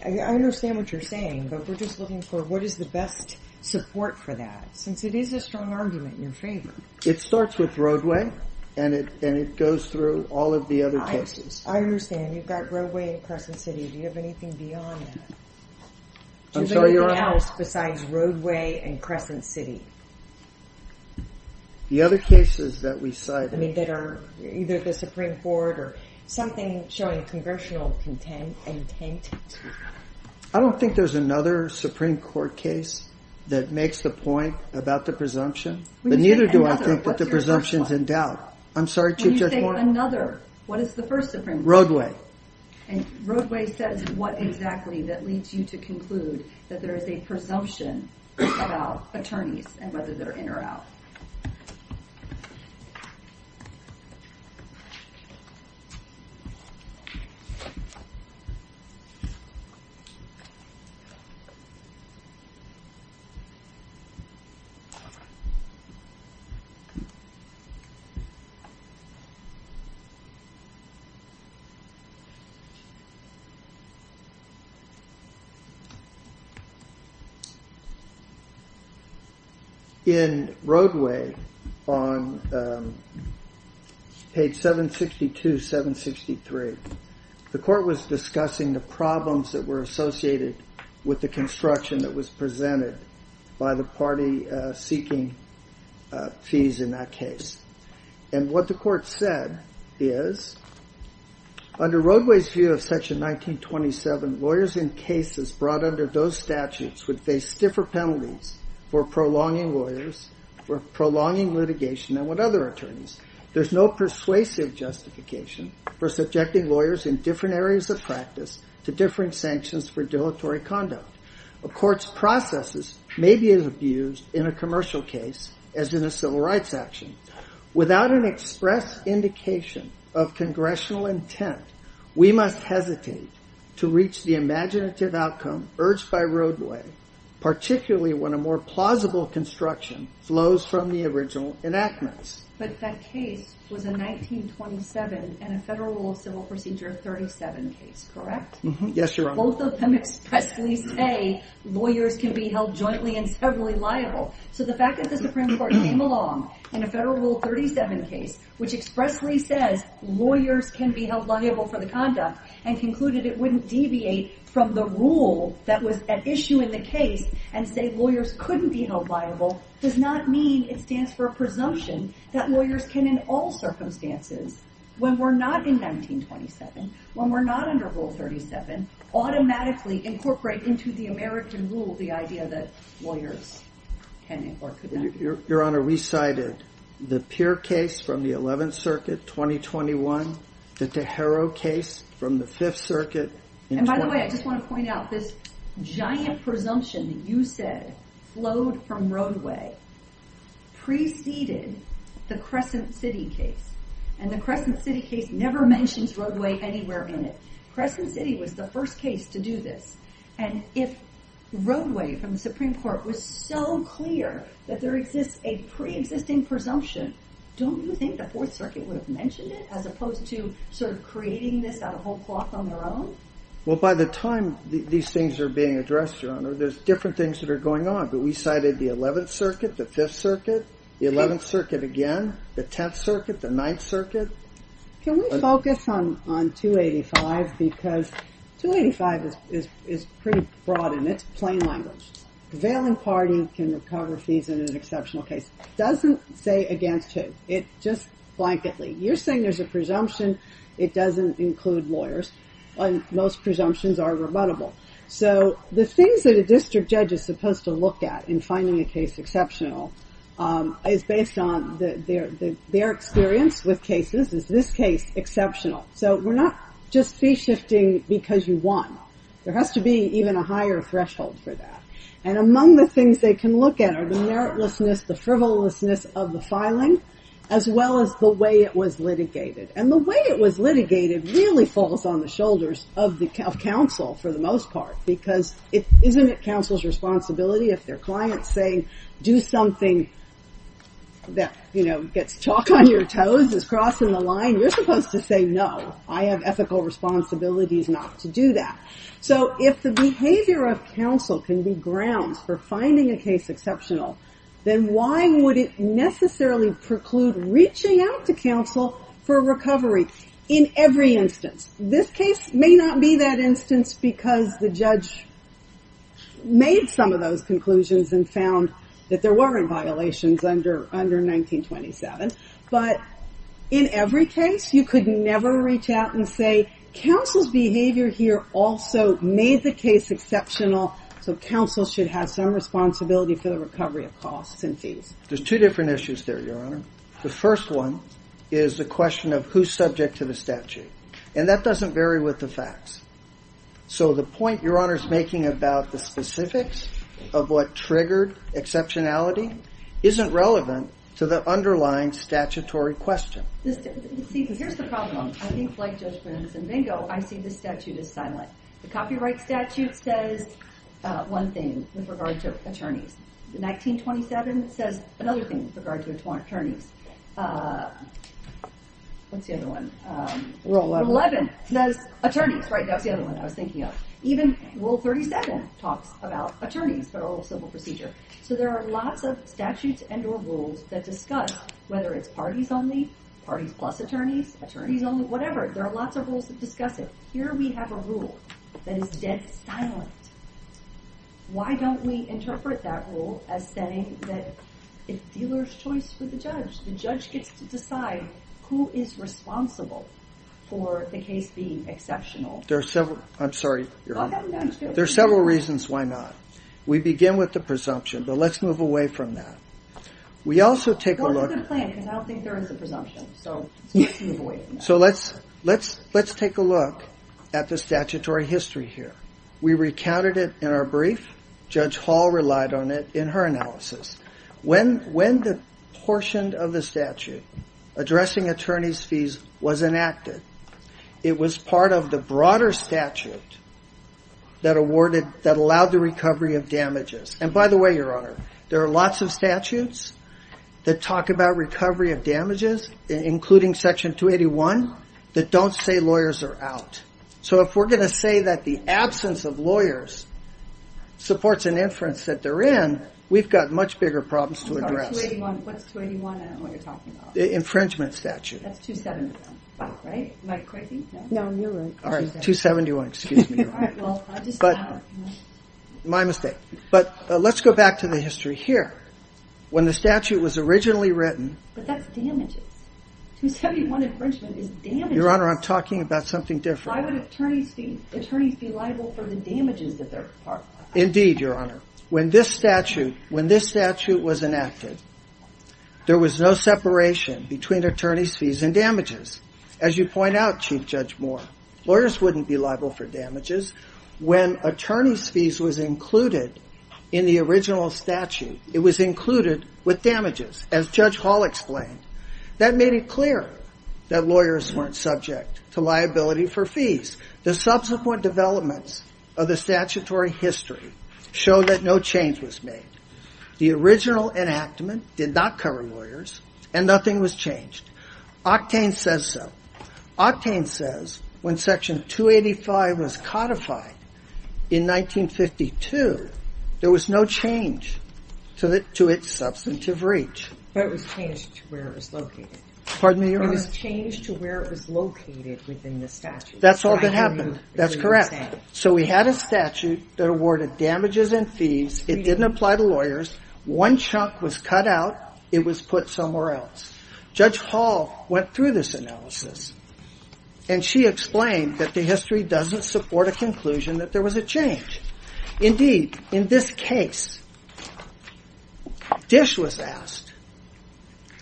understand what you're saying, but we're just looking for what is the best support for that, since it is a strong argument in your favor. It starts with Roadway, and it goes through all of the other cases. I understand. You've got Roadway and Crescent City. Do you have anything beyond that? I'm sorry, Your Honor? Is there anything else besides Roadway and Crescent City? The other cases that we cited. I mean, that are either the Supreme Court or something showing congressional intent? I don't think there's another Supreme Court case that makes the point about the presumption. But neither do I think that the presumption's in doubt. When you say another, what is the first Supreme Court case? Roadway. And Roadway says what exactly that leads you to conclude that there is a presumption about attorneys and whether they're in or out. In Roadway, on page 762, 763, the court was discussing the problems that were associated with the construction that was presented by the party seeking to And what the court said is, Under Roadway's view of section 1927, lawyers in cases brought under those statutes would face stiffer penalties for prolonging litigation than would other attorneys. There's no persuasive justification for subjecting lawyers in different areas of practice to different sanctions for dilatory conduct. A court's processes may be as abused in a commercial case as in a civil rights action. Without an express indication of congressional intent, we must hesitate to reach the imaginative outcome urged by Roadway, particularly when a more plausible construction flows from the original enactments. But that case was a 1927 and a Federal Rule of Civil Procedure 37 case, correct? Yes, Your Honor. Both of them expressly say lawyers can be held jointly and severally liable. So the fact that the Supreme Court came along in a Federal Rule 37 case, which expressly says lawyers can be held liable for the conduct, and concluded it wouldn't deviate from the rule that was at issue in the case, and say lawyers couldn't be held liable, does not mean it stands for a presumption that lawyers can in all circumstances, when we're not in 1927, when we're not under Rule 37, automatically incorporate into the American rule the idea that lawyers can or could not be held liable. Your Honor, we cited the Peer case from the 11th Circuit, 2021, the Tejero case from the 5th Circuit. And by the way, I just want to point out this giant presumption that you said flowed from Roadway preceded the Crescent City case. And the Crescent City case never mentions Roadway anywhere in it. Crescent City was the first case to do this. And if Roadway from the Supreme Court was so clear that there exists a pre-existing presumption, don't you think the 4th Circuit would have mentioned it as opposed to sort of creating this out of whole cloth on their own? Well, by the time these things are being addressed, Your Honor, there's different things that are going on. But we cited the 11th Circuit, the 5th Circuit, the 11th Circuit again, the 10th Circuit, the 9th Circuit. Can we focus on 285? Because 285 is pretty broad in its plain language. Veiling party can recover fees in an exceptional case. Doesn't say against who. It just blankedly. You're saying there's a presumption. It doesn't include lawyers. Most presumptions are rebuttable. So the things that a district judge is supposed to look at in finding a case exceptional is based on their experience with cases. Is this case exceptional? So we're not just fee shifting because you won. There has to be even a higher threshold for that. And among the things they can look at are the meritlessness, the frivolousness of the filing, as well as the way it was litigated. And the way it was litigated really falls on the shoulders of counsel for the most part. Because isn't it counsel's responsibility if their client's saying do something that gets chalk on your toes, is crossing the line? You're supposed to say no. I have ethical responsibilities not to do that. So if the behavior of counsel can be grounds for finding a case exceptional, then why would it necessarily preclude reaching out to counsel for recovery in every instance? This case may not be that instance because the judge made some of those conclusions and found that there were violations under 1927. But in every case, you could never reach out and say counsel's behavior here also made the case exceptional. So counsel should have some responsibility for the recovery of costs and fees. There's two different issues there, Your Honor. The first one is the question of who's subject to the statute. And that doesn't vary with the facts. So the point Your Honor's making about the specifics of what triggered exceptionality isn't relevant to the underlying statutory question. Here's the problem. I think like Judge Brins and Bingo, I see this statute as silent. The copyright statute says one thing with regard to attorneys. 1927 says another thing with regard to attorneys. What's the other one? Rule 11 says attorneys, right? That was the other one I was thinking of. Even Rule 37 talks about attorneys, federal civil procedure. So there are lots of statutes and or rules that discuss whether it's parties only, parties plus attorneys, attorneys only, whatever. There are lots of rules that discuss it. Here we have a rule that is dead silent. Why don't we interpret that rule as saying that it's dealer's choice for the judge? The judge gets to decide who is responsible for the case being exceptional. There are several reasons why not. We begin with the presumption, but let's move away from that. Let's take a look at the statutory history here. We recounted it in our brief. Judge Hall relied on it in her analysis. When the portion of the statute addressing attorney's fees was enacted, it was part of the broader statute that allowed the recovery of damages. And by the way, Your Honor, there are lots of statutes that talk about recovery of damages, including Section 281, that don't say lawyers are out. So if we're going to say that the absence of lawyers supports an inference that they're in, we've got much bigger problems to address. What's 281? I don't know what you're talking about. The infringement statute. That's 271, right? Am I correct? No, you're right. 271, excuse me. My mistake. But let's go back to the history here. When the statute was originally written. But that's damages. 271 infringement is damages. Your Honor, I'm talking about something different. Why would attorneys be liable for the damages that they're part of? Indeed, Your Honor. When this statute was enacted, there was no separation between attorney's fees and damages. As you point out, Chief Judge Moore, lawyers wouldn't be liable for damages when attorney's fees was included in the original statute. It was included with damages. As Judge Hall explained, that made it clear that lawyers weren't subject to liability for fees. The subsequent developments of the statutory history show that no change was made. The original enactment did not cover lawyers and nothing was changed. Octane says so. Octane says when Section 285 was codified in 1952, there was no change to its substantive reach. But it was changed to where it was located. Pardon me, Your Honor? It was changed to where it was located within the statute. That's all that happened. That's correct. So we had a statute that awarded damages and fees. It didn't apply to lawyers. One chunk was cut out. It was put somewhere else. Judge Hall went through this analysis. And she explained that the history doesn't support a conclusion that there was a change. Indeed, in this case, Dish was asked,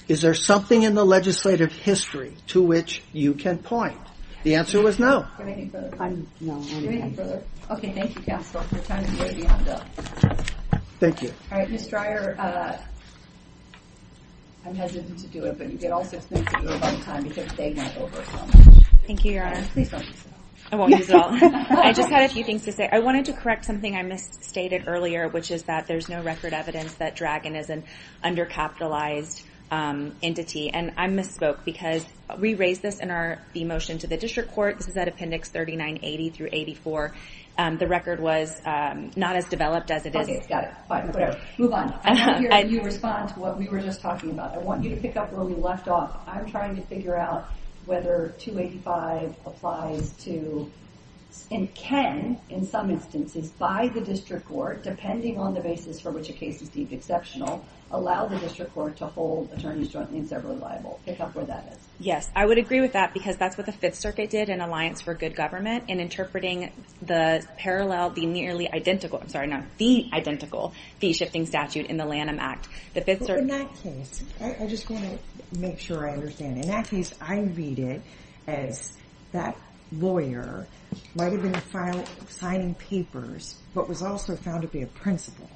is there something in the legislative history to which you can point? The answer was no. Do you have anything further? No. Do you have anything further? Okay, thank you, Counsel. Your time is nearly up. Thank you. All right, Ms. Dreyer, I'm hesitant to do it, but you get all sorts of things to do all the time because they might overcome it. Thank you, Your Honor. Please don't use that. I won't use it all. I just had a few things to say. I wanted to correct something I misstated earlier, which is that there's no record evidence that Dragon is an undercapitalized entity. And I misspoke because we raised this in the motion to the District Court. This is at Appendix 3980 through 84. The record was not as developed as it is. Okay, got it. Move on. I want to hear you respond to what we were just talking about. I want you to pick up where we left off. I'm trying to figure out whether 285 applies to and can, in some instances, by the District Court, depending on the basis for which a case is deemed exceptional, allow the District Court to hold attorneys jointly and severally liable. Pick up where that is. Yes, I would agree with that because that's what the Fifth Circuit did in Alliance for Good Government in interpreting the parallel, the nearly identical, I'm sorry, not the identical fee-shifting statute in the Lanham Act. But in that case, I just want to make sure I understand. In that case, I read it as that lawyer might have been signing papers, but was also found to be a principal.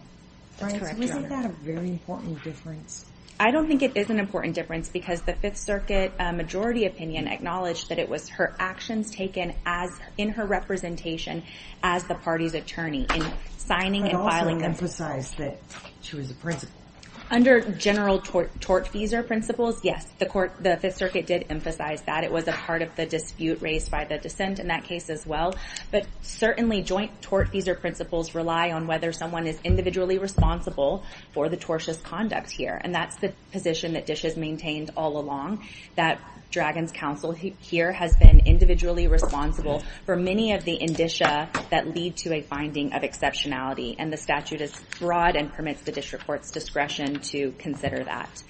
Isn't that a very important difference? I don't think it is an important difference because the Fifth Circuit majority opinion acknowledged that it was her actions taken in her representation as the party's attorney in signing and filing them. But also emphasized that she was a principal. And that's the position that DISH has maintained all along, that Dragon's Counsel here has been individually responsible for many of the indicia that lead to a finding of exceptionality. And the statute is broad and permits the District Court's discretion to consider that.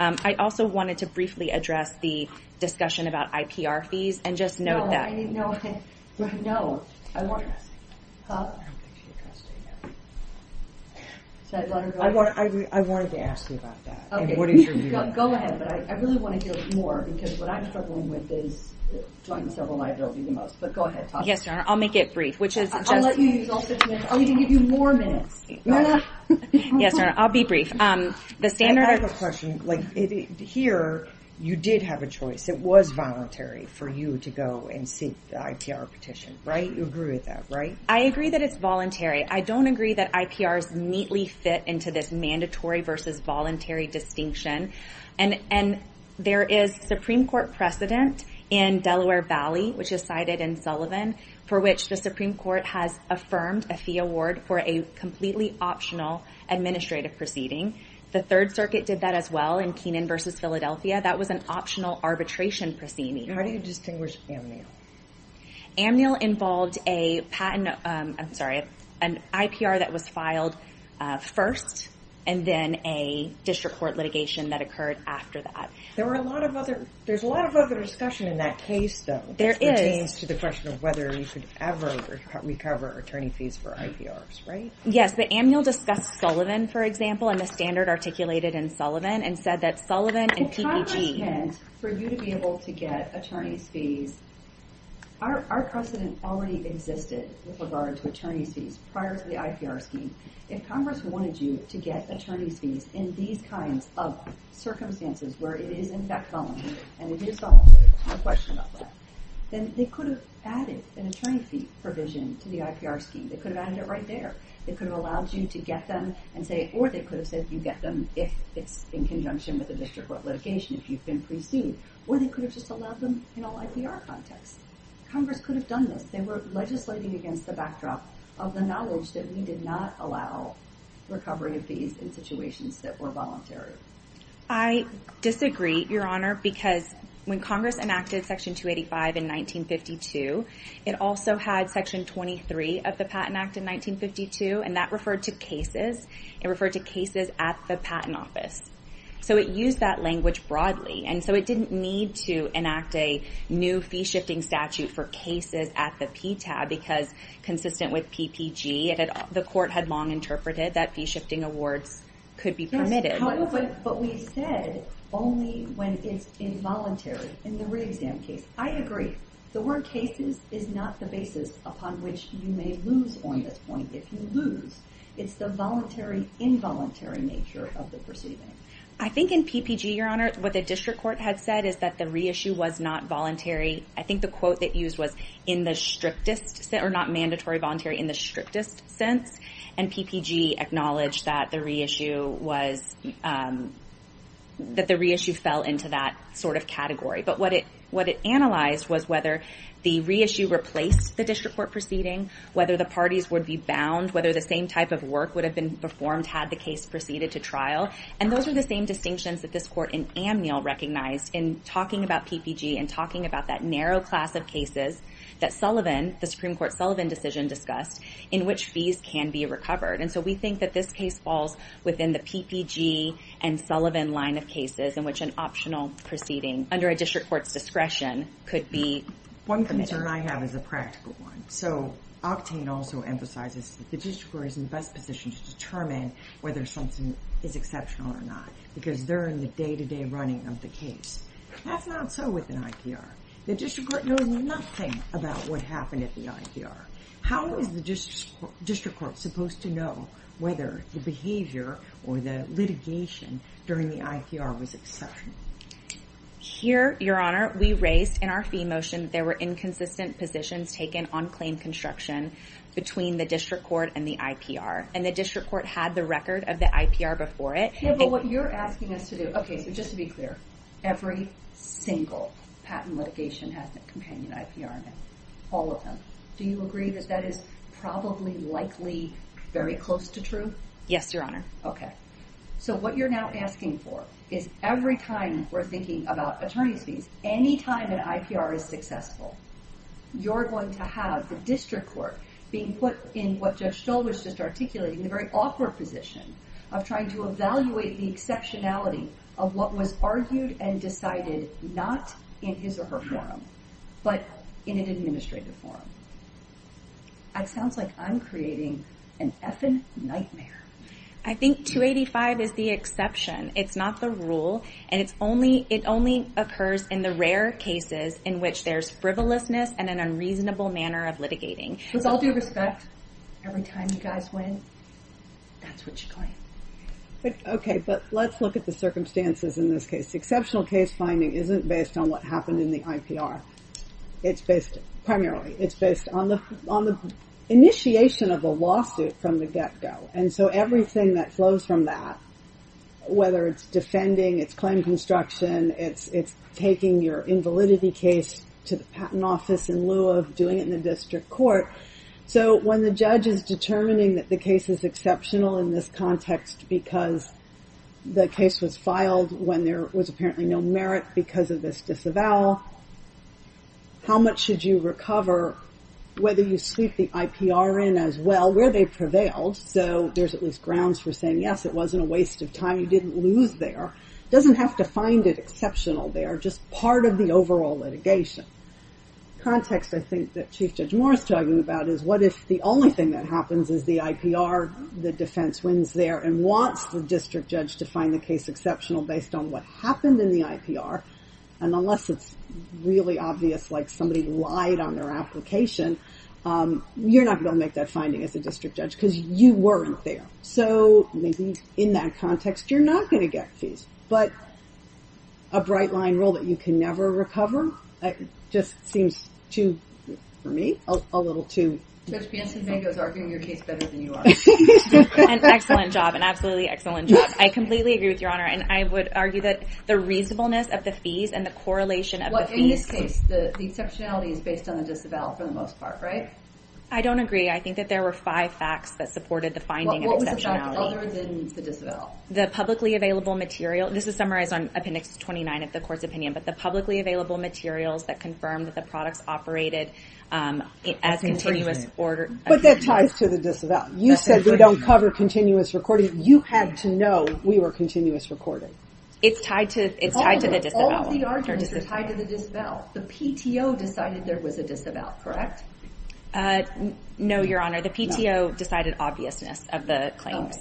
I also wanted to briefly address the discussion about IPR fees and just note that... I don't think she addressed it yet. I wanted to ask you about that. Go ahead, but I really want to hear more because what I'm struggling with is... Yes, Your Honor, I'll make it brief. I'll let you use all six minutes. I'll even give you more minutes. Yes, Your Honor, I'll be brief. I have a question. Here, you did have a choice. It was voluntary for you to go and seek the IPR petition, right? You agree with that, right? I agree that it's voluntary. I don't agree that IPRs neatly fit into this mandatory versus voluntary distinction. And there is Supreme Court precedent in Delaware Valley, which is cited in Sullivan, for which the Supreme Court has affirmed a fee award for a completely optional administrative proceeding. The Third Circuit did that as well in Kenan v. Philadelphia. That was an optional arbitration proceeding. How do you distinguish Amnil? Amnil involved a patent... I'm sorry, an IPR that was filed first and then a district court litigation that occurred after that. There's a lot of other discussion in that case, though. There is. This pertains to the question of whether you could ever recover attorney fees for IPRs, right? Yes, but Amnil discussed Sullivan, for example, and the standard articulated in Sullivan and said that Sullivan and PPG... Our precedent already existed with regard to attorney's fees prior to the IPR scheme. If Congress wanted you to get attorney's fees in these kinds of circumstances where it is, in fact, voluntary, and it is voluntary, there's no question about that, then they could have added an attorney fee provision to the IPR scheme. They could have added it right there. They could have allowed you to get them and say... or they could have said you get them if it's in conjunction with a district court litigation, if you've been pre-sued. Or they could have just allowed them in an IPR context. Congress could have done this. They were legislating against the backdrop of the knowledge that we did not allow recovery of fees in situations that were voluntary. I disagree, Your Honor, because when Congress enacted Section 285 in 1952, it also had Section 23 of the Patent Act in 1952, and that referred to cases. It referred to cases at the Patent Office. So it used that language broadly, and so it didn't need to enact a new fee-shifting statute for cases at the PTAB because, consistent with PPG, the court had long interpreted that fee-shifting awards could be permitted. Yes, but we said only when it's involuntary in the re-exam case. I agree. The word cases is not the basis upon which you may lose on this point. If you lose, it's the voluntary, involuntary nature of the proceeding. I think in PPG, Your Honor, what the district court had said is that the reissue was not voluntary. I think the quote they used was in the strictest sense, or not mandatory voluntary, in the strictest sense, and PPG acknowledged that the reissue fell into that sort of category. But what it analyzed was whether the reissue replaced the district court proceeding, whether the parties would be bound, whether the same type of work would have been performed had the case proceeded to trial. And those are the same distinctions that this court in Amnil recognized in talking about PPG and talking about that narrow class of cases that Sullivan, the Supreme Court Sullivan decision discussed, in which fees can be recovered. And so we think that this case falls within the PPG and Sullivan line of cases in which an optional proceeding under a district court's discretion could be committed. One concern I have is a practical one. So Octane also emphasizes that the district court is in the best position to determine whether something is exceptional or not because they're in the day-to-day running of the case. That's not so with an IPR. The district court knows nothing about what happened at the IPR. How is the district court supposed to know whether the behavior or the litigation during the IPR was exceptional? Here, Your Honor, we raised in our fee motion that there were inconsistent positions taken on claim construction between the district court and the IPR. And the district court had the record of the IPR before it. Yeah, but what you're asking us to do, okay, so just to be clear, every single patent litigation has a companion IPR in it, all of them. Do you agree that that is probably likely very close to true? Yes, Your Honor. Okay. So what you're now asking for is every time we're thinking about attorney's fees, any time an IPR is successful, you're going to have the district court being put in what Judge Stoll was just articulating, the very awkward position of trying to evaluate the exceptionality of what was argued and decided not in his or her forum, but in an administrative forum. It sounds like I'm creating an effing nightmare. I think 285 is the exception. It's not the rule, and it only occurs in the rare cases in which there's frivolousness and an unreasonable manner of litigating. With all due respect, every time you guys win, that's what you claim. Okay, but let's look at the circumstances in this case. Exceptional case finding isn't based on what happened in the IPR. It's based primarily, it's based on the initiation of a lawsuit from the get-go. And so everything that flows from that, whether it's defending, it's claim construction, it's taking your invalidity case to the patent office in lieu of doing it in the district court. So when the judge is determining that the case is exceptional in this context because the case was filed when there was apparently no merit because of this disavowal, how much should you recover, whether you sweep the IPR in as well, where they prevailed. So there's at least grounds for saying, yes, it wasn't a waste of time. You didn't lose there. It doesn't have to find it exceptional there, just part of the overall litigation. Context, I think, that Chief Judge Moore is talking about is what if the only thing that happens is the IPR, the defense wins there and wants the district judge to find the case exceptional based on what happened in the IPR. And unless it's really obvious like somebody lied on their application, you're not going to make that finding as a district judge because you weren't there. So maybe in that context, you're not going to get fees. But a bright line rule that you can never recover just seems too, for me, a little too. Judge Piazza-Domingo is arguing your case better than you are. An excellent job, an absolutely excellent job. I completely agree with Your Honor. And I would argue that the reasonableness of the fees and the correlation of the fees. In this case, the exceptionality is based on the disavowal for the most part, right? I don't agree. I think that there were five facts that supported the finding of exceptionality. What was adopted other than the disavowal? The publicly available material. This is summarized on Appendix 29 of the court's opinion. But the publicly available materials that confirmed that the products operated as continuous order. But that ties to the disavowal. You said they don't cover continuous recording. You had to know we were continuous recording. It's tied to the disavowal. All of the arguments are tied to the disavowal. The PTO decided there was a disavowal, correct? No, Your Honor. The PTO decided obviousness of the claims.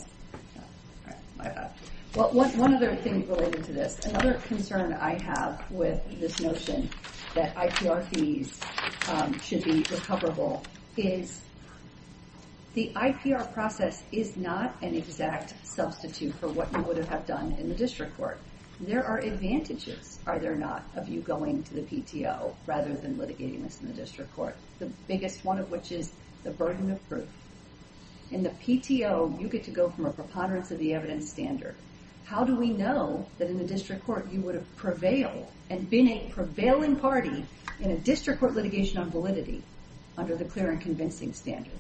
Well, one other thing related to this. Another concern I have with this notion that IPR fees should be recoverable is the IPR process is not an exact substitute for what you would have done in the district court. There are advantages, are there not, of you going to the PTO rather than litigating this in the district court. The biggest one of which is the burden of proof. In the PTO, you get to go from a preponderance of the evidence standard. How do we know that in the district court you would have prevailed and been a prevailing party in a district court litigation on validity under the clear and convincing standard?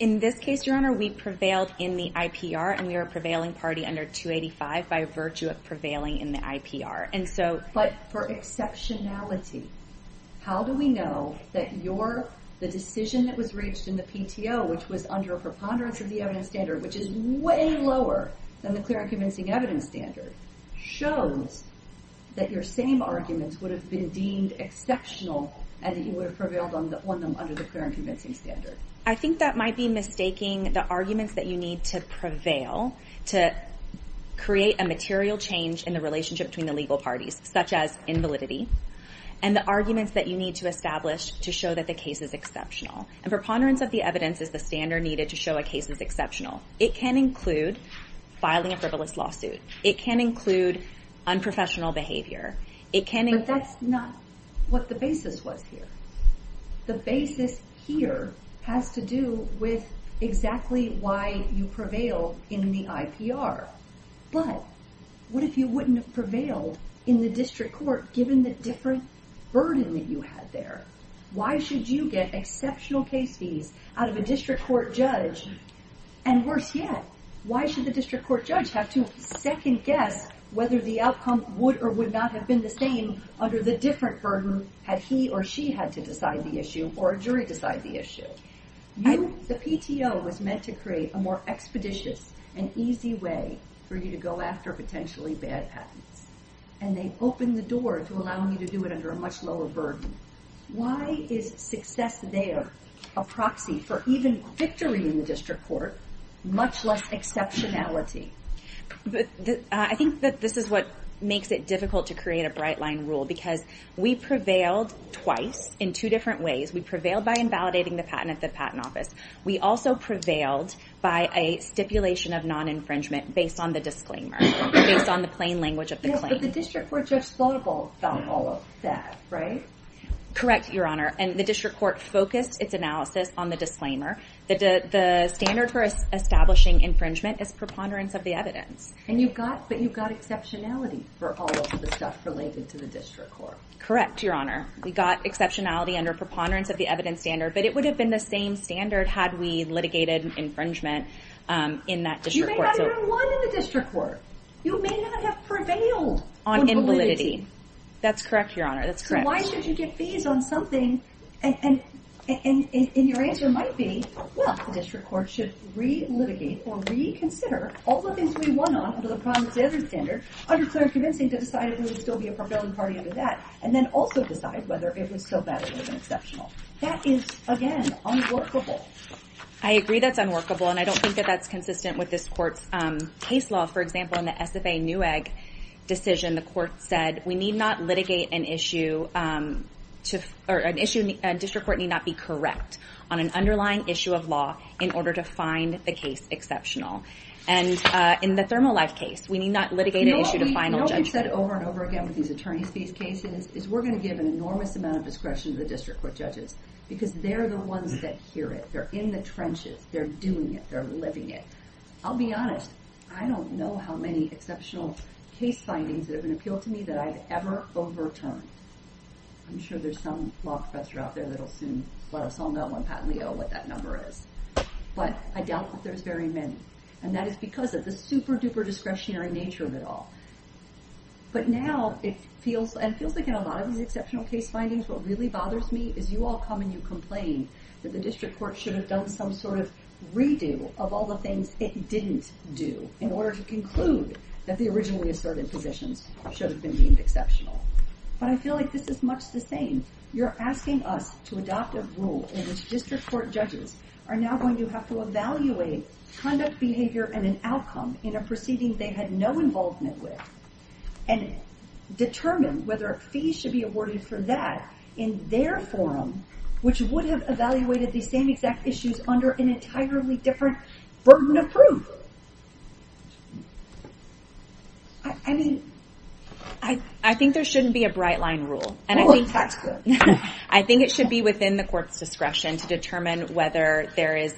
In this case, Your Honor, we prevailed in the IPR and we were a prevailing party under 285 by virtue of prevailing in the IPR. But for exceptionality, how do we know that the decision that was reached in the PTO, which was under a preponderance of the evidence standard, which is way lower than the clear and convincing evidence standard, shows that your same arguments would have been deemed exceptional and that you would have prevailed on them under the clear and convincing standard? I think that might be mistaking the arguments that you need to prevail to create a material change in the relationship between the legal parties, such as invalidity, and the arguments that you need to establish to show that the case is exceptional. And preponderance of the evidence is the standard needed to show a case is exceptional. It can include filing a frivolous lawsuit. It can include unprofessional behavior. But that's not what the basis was here. The basis here has to do with exactly why you prevailed in the IPR. But what if you wouldn't have prevailed in the district court given the different burden that you had there? Why should you get exceptional case fees out of a district court judge? And worse yet, why should the district court judge have to second guess whether the outcome would or would not have been the same under the different burden had he or she had to decide the issue or a jury decide the issue? The PTO was meant to create a more expeditious and easy way for you to go after potentially bad patents. And they opened the door to allowing you to do it under a much lower burden. Why is success there a proxy for even victory in the district court, much less exceptionality? I think that this is what makes it difficult to create a bright line rule because we prevailed twice in two different ways. We prevailed by invalidating the patent at the Patent Office. We also prevailed by a stipulation of non-infringement based on the disclaimer, based on the plain language of the claim. But the district court judge thought about all of that, right? Correct, Your Honor. And the district court focused its analysis on the disclaimer. The standard for establishing infringement is preponderance of the evidence. But you got exceptionality for all of the stuff related to the district court. Correct, Your Honor. We got exceptionality under preponderance of the evidence standard, but it would have been the same standard had we litigated infringement in that district court. You may not have even won in the district court. You may not have prevailed on validity. That's correct, Your Honor. That's correct. But why should you get fees on something? And your answer might be, well, the district court should re-litigate or reconsider all the things we won on under the Promise Editor standard under Claire's convincing to decide it would still be a prevailing party under that and then also decide whether it was still valid or even exceptional. That is, again, unworkable. I agree that's unworkable, and I don't think that that's consistent with this court's case law. For example, in the SFA NEWAG decision, the court said, we need not litigate an issue to an issue a district court need not be correct on an underlying issue of law in order to find the case exceptional. And in the ThermoLife case, we need not litigate an issue to final judgment. You know what we've said over and over again with these attorney's fees cases is we're going to give an enormous amount of discretion to the district court judges because they're the ones that hear it. They're in the trenches. They're doing it. They're living it. I'll be honest. I don't know how many exceptional case findings that have been appealed to me that I've ever overturned. I'm sure there's some law professor out there that'll soon let us all know when Pat and Leo what that number is. But I doubt that there's very many. And that is because of the super-duper discretionary nature of it all. But now it feels like in a lot of these exceptional case findings, what really bothers me is you all come and you complain that the district court should have done some sort of redo of all the things it didn't do in order to conclude that the originally asserted positions should have been deemed exceptional. But I feel like this is much the same. You're asking us to adopt a rule in which district court judges are now going to have to evaluate conduct, behavior, and an outcome in a proceeding they had no involvement with and determine whether a fee should be awarded for that in their forum, which would have evaluated the same exact issues under an entirely different burden of proof. I think there shouldn't be a bright line rule. I think it should be within the court's discretion to determine whether there is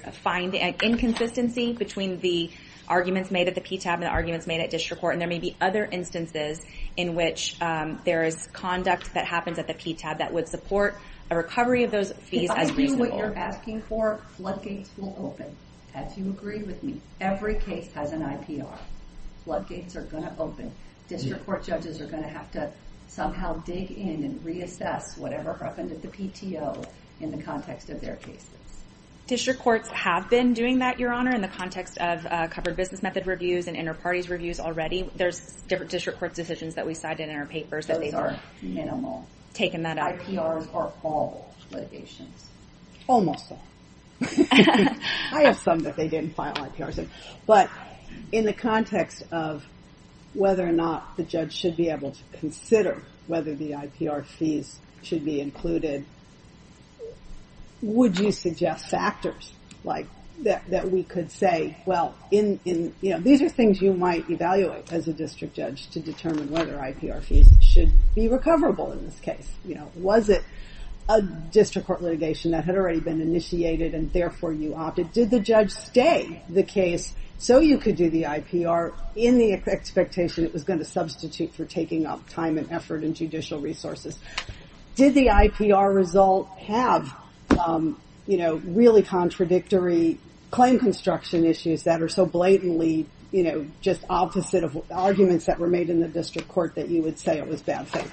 inconsistency between the arguments made at the PTAB and the arguments made at district court. And there may be other instances in which there is conduct that happens at the PTAB that would support a recovery of those fees as reasonable. If I do what you're asking for, floodgates will open. As you agree with me, every case has an IPR. Floodgates are going to open. District court judges are going to have to somehow dig in and reassess whatever happened at the PTO in the context of their cases. District courts have been doing that, Your Honor, in the context of covered business method reviews and inter-parties reviews already. There's different district court decisions that we cite in our papers. Those are minimal. IPRs are all litigations. Almost all. I have some that they didn't file IPRs in. But in the context of whether or not the judge should be able to consider whether the IPR fees should be included, would you suggest factors that we could say, well, these are things you might evaluate as a district judge to determine whether IPR fees should be recoverable in this case? Was it a district court litigation that had already been initiated and therefore you opted? Did the judge stay the case so you could do the IPR in the expectation it was going to substitute for taking up time and effort and judicial resources? Did the IPR result have really contradictory claim construction issues that are so blatantly just opposite of arguments that were made in the district court that you would say it was bad faith?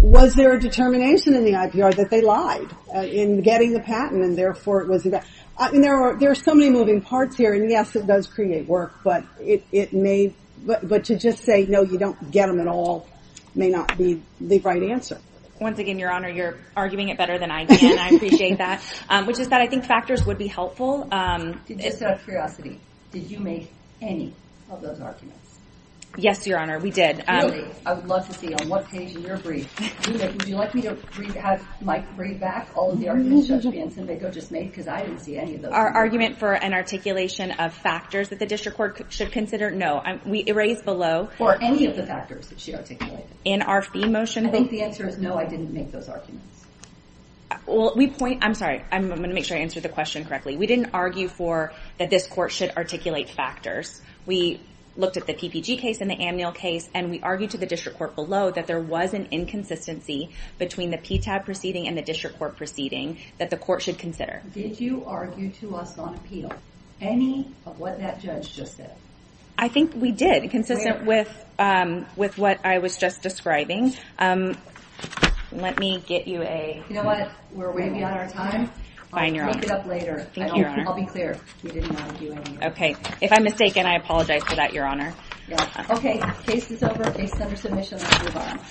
Was there a determination in the IPR that they lied in getting the patent and therefore it was a bad thing? There are so many moving parts here, and yes, it does create work, but to just say, no, you don't get them at all, may not be the right answer. Once again, Your Honor, you're arguing it better than I can. I appreciate that. Which is that I think factors would be helpful. Just out of curiosity, did you make any of those arguments? Yes, Your Honor, we did. Really? I would love to see on what page in your brief, would you like me to have Mike read back all of the arguments Judge Biancinbego just made because I didn't see any of those. Our argument for an articulation of factors that the district court should consider, no. We erased below. Or any of the factors that she articulated. In our fee motion. I think the answer is no, I didn't make those arguments. I'm sorry, I'm going to make sure I answer the question correctly. We didn't argue for that this court should articulate factors. We looked at the PPG case and the Amnil case, and we argued to the district court below that there was an inconsistency between the PTAB proceeding and the district court proceeding that the court should consider. Did you argue to us on appeal any of what that judge just said? I think we did, consistent with what I was just describing. Let me get you a... You know what, we're way beyond our time. I'll speak it up later. I'll be clear. We did not argue any of that. Okay, if I'm mistaken, I apologize for that, Your Honor. Okay, case is over. Case is under submission.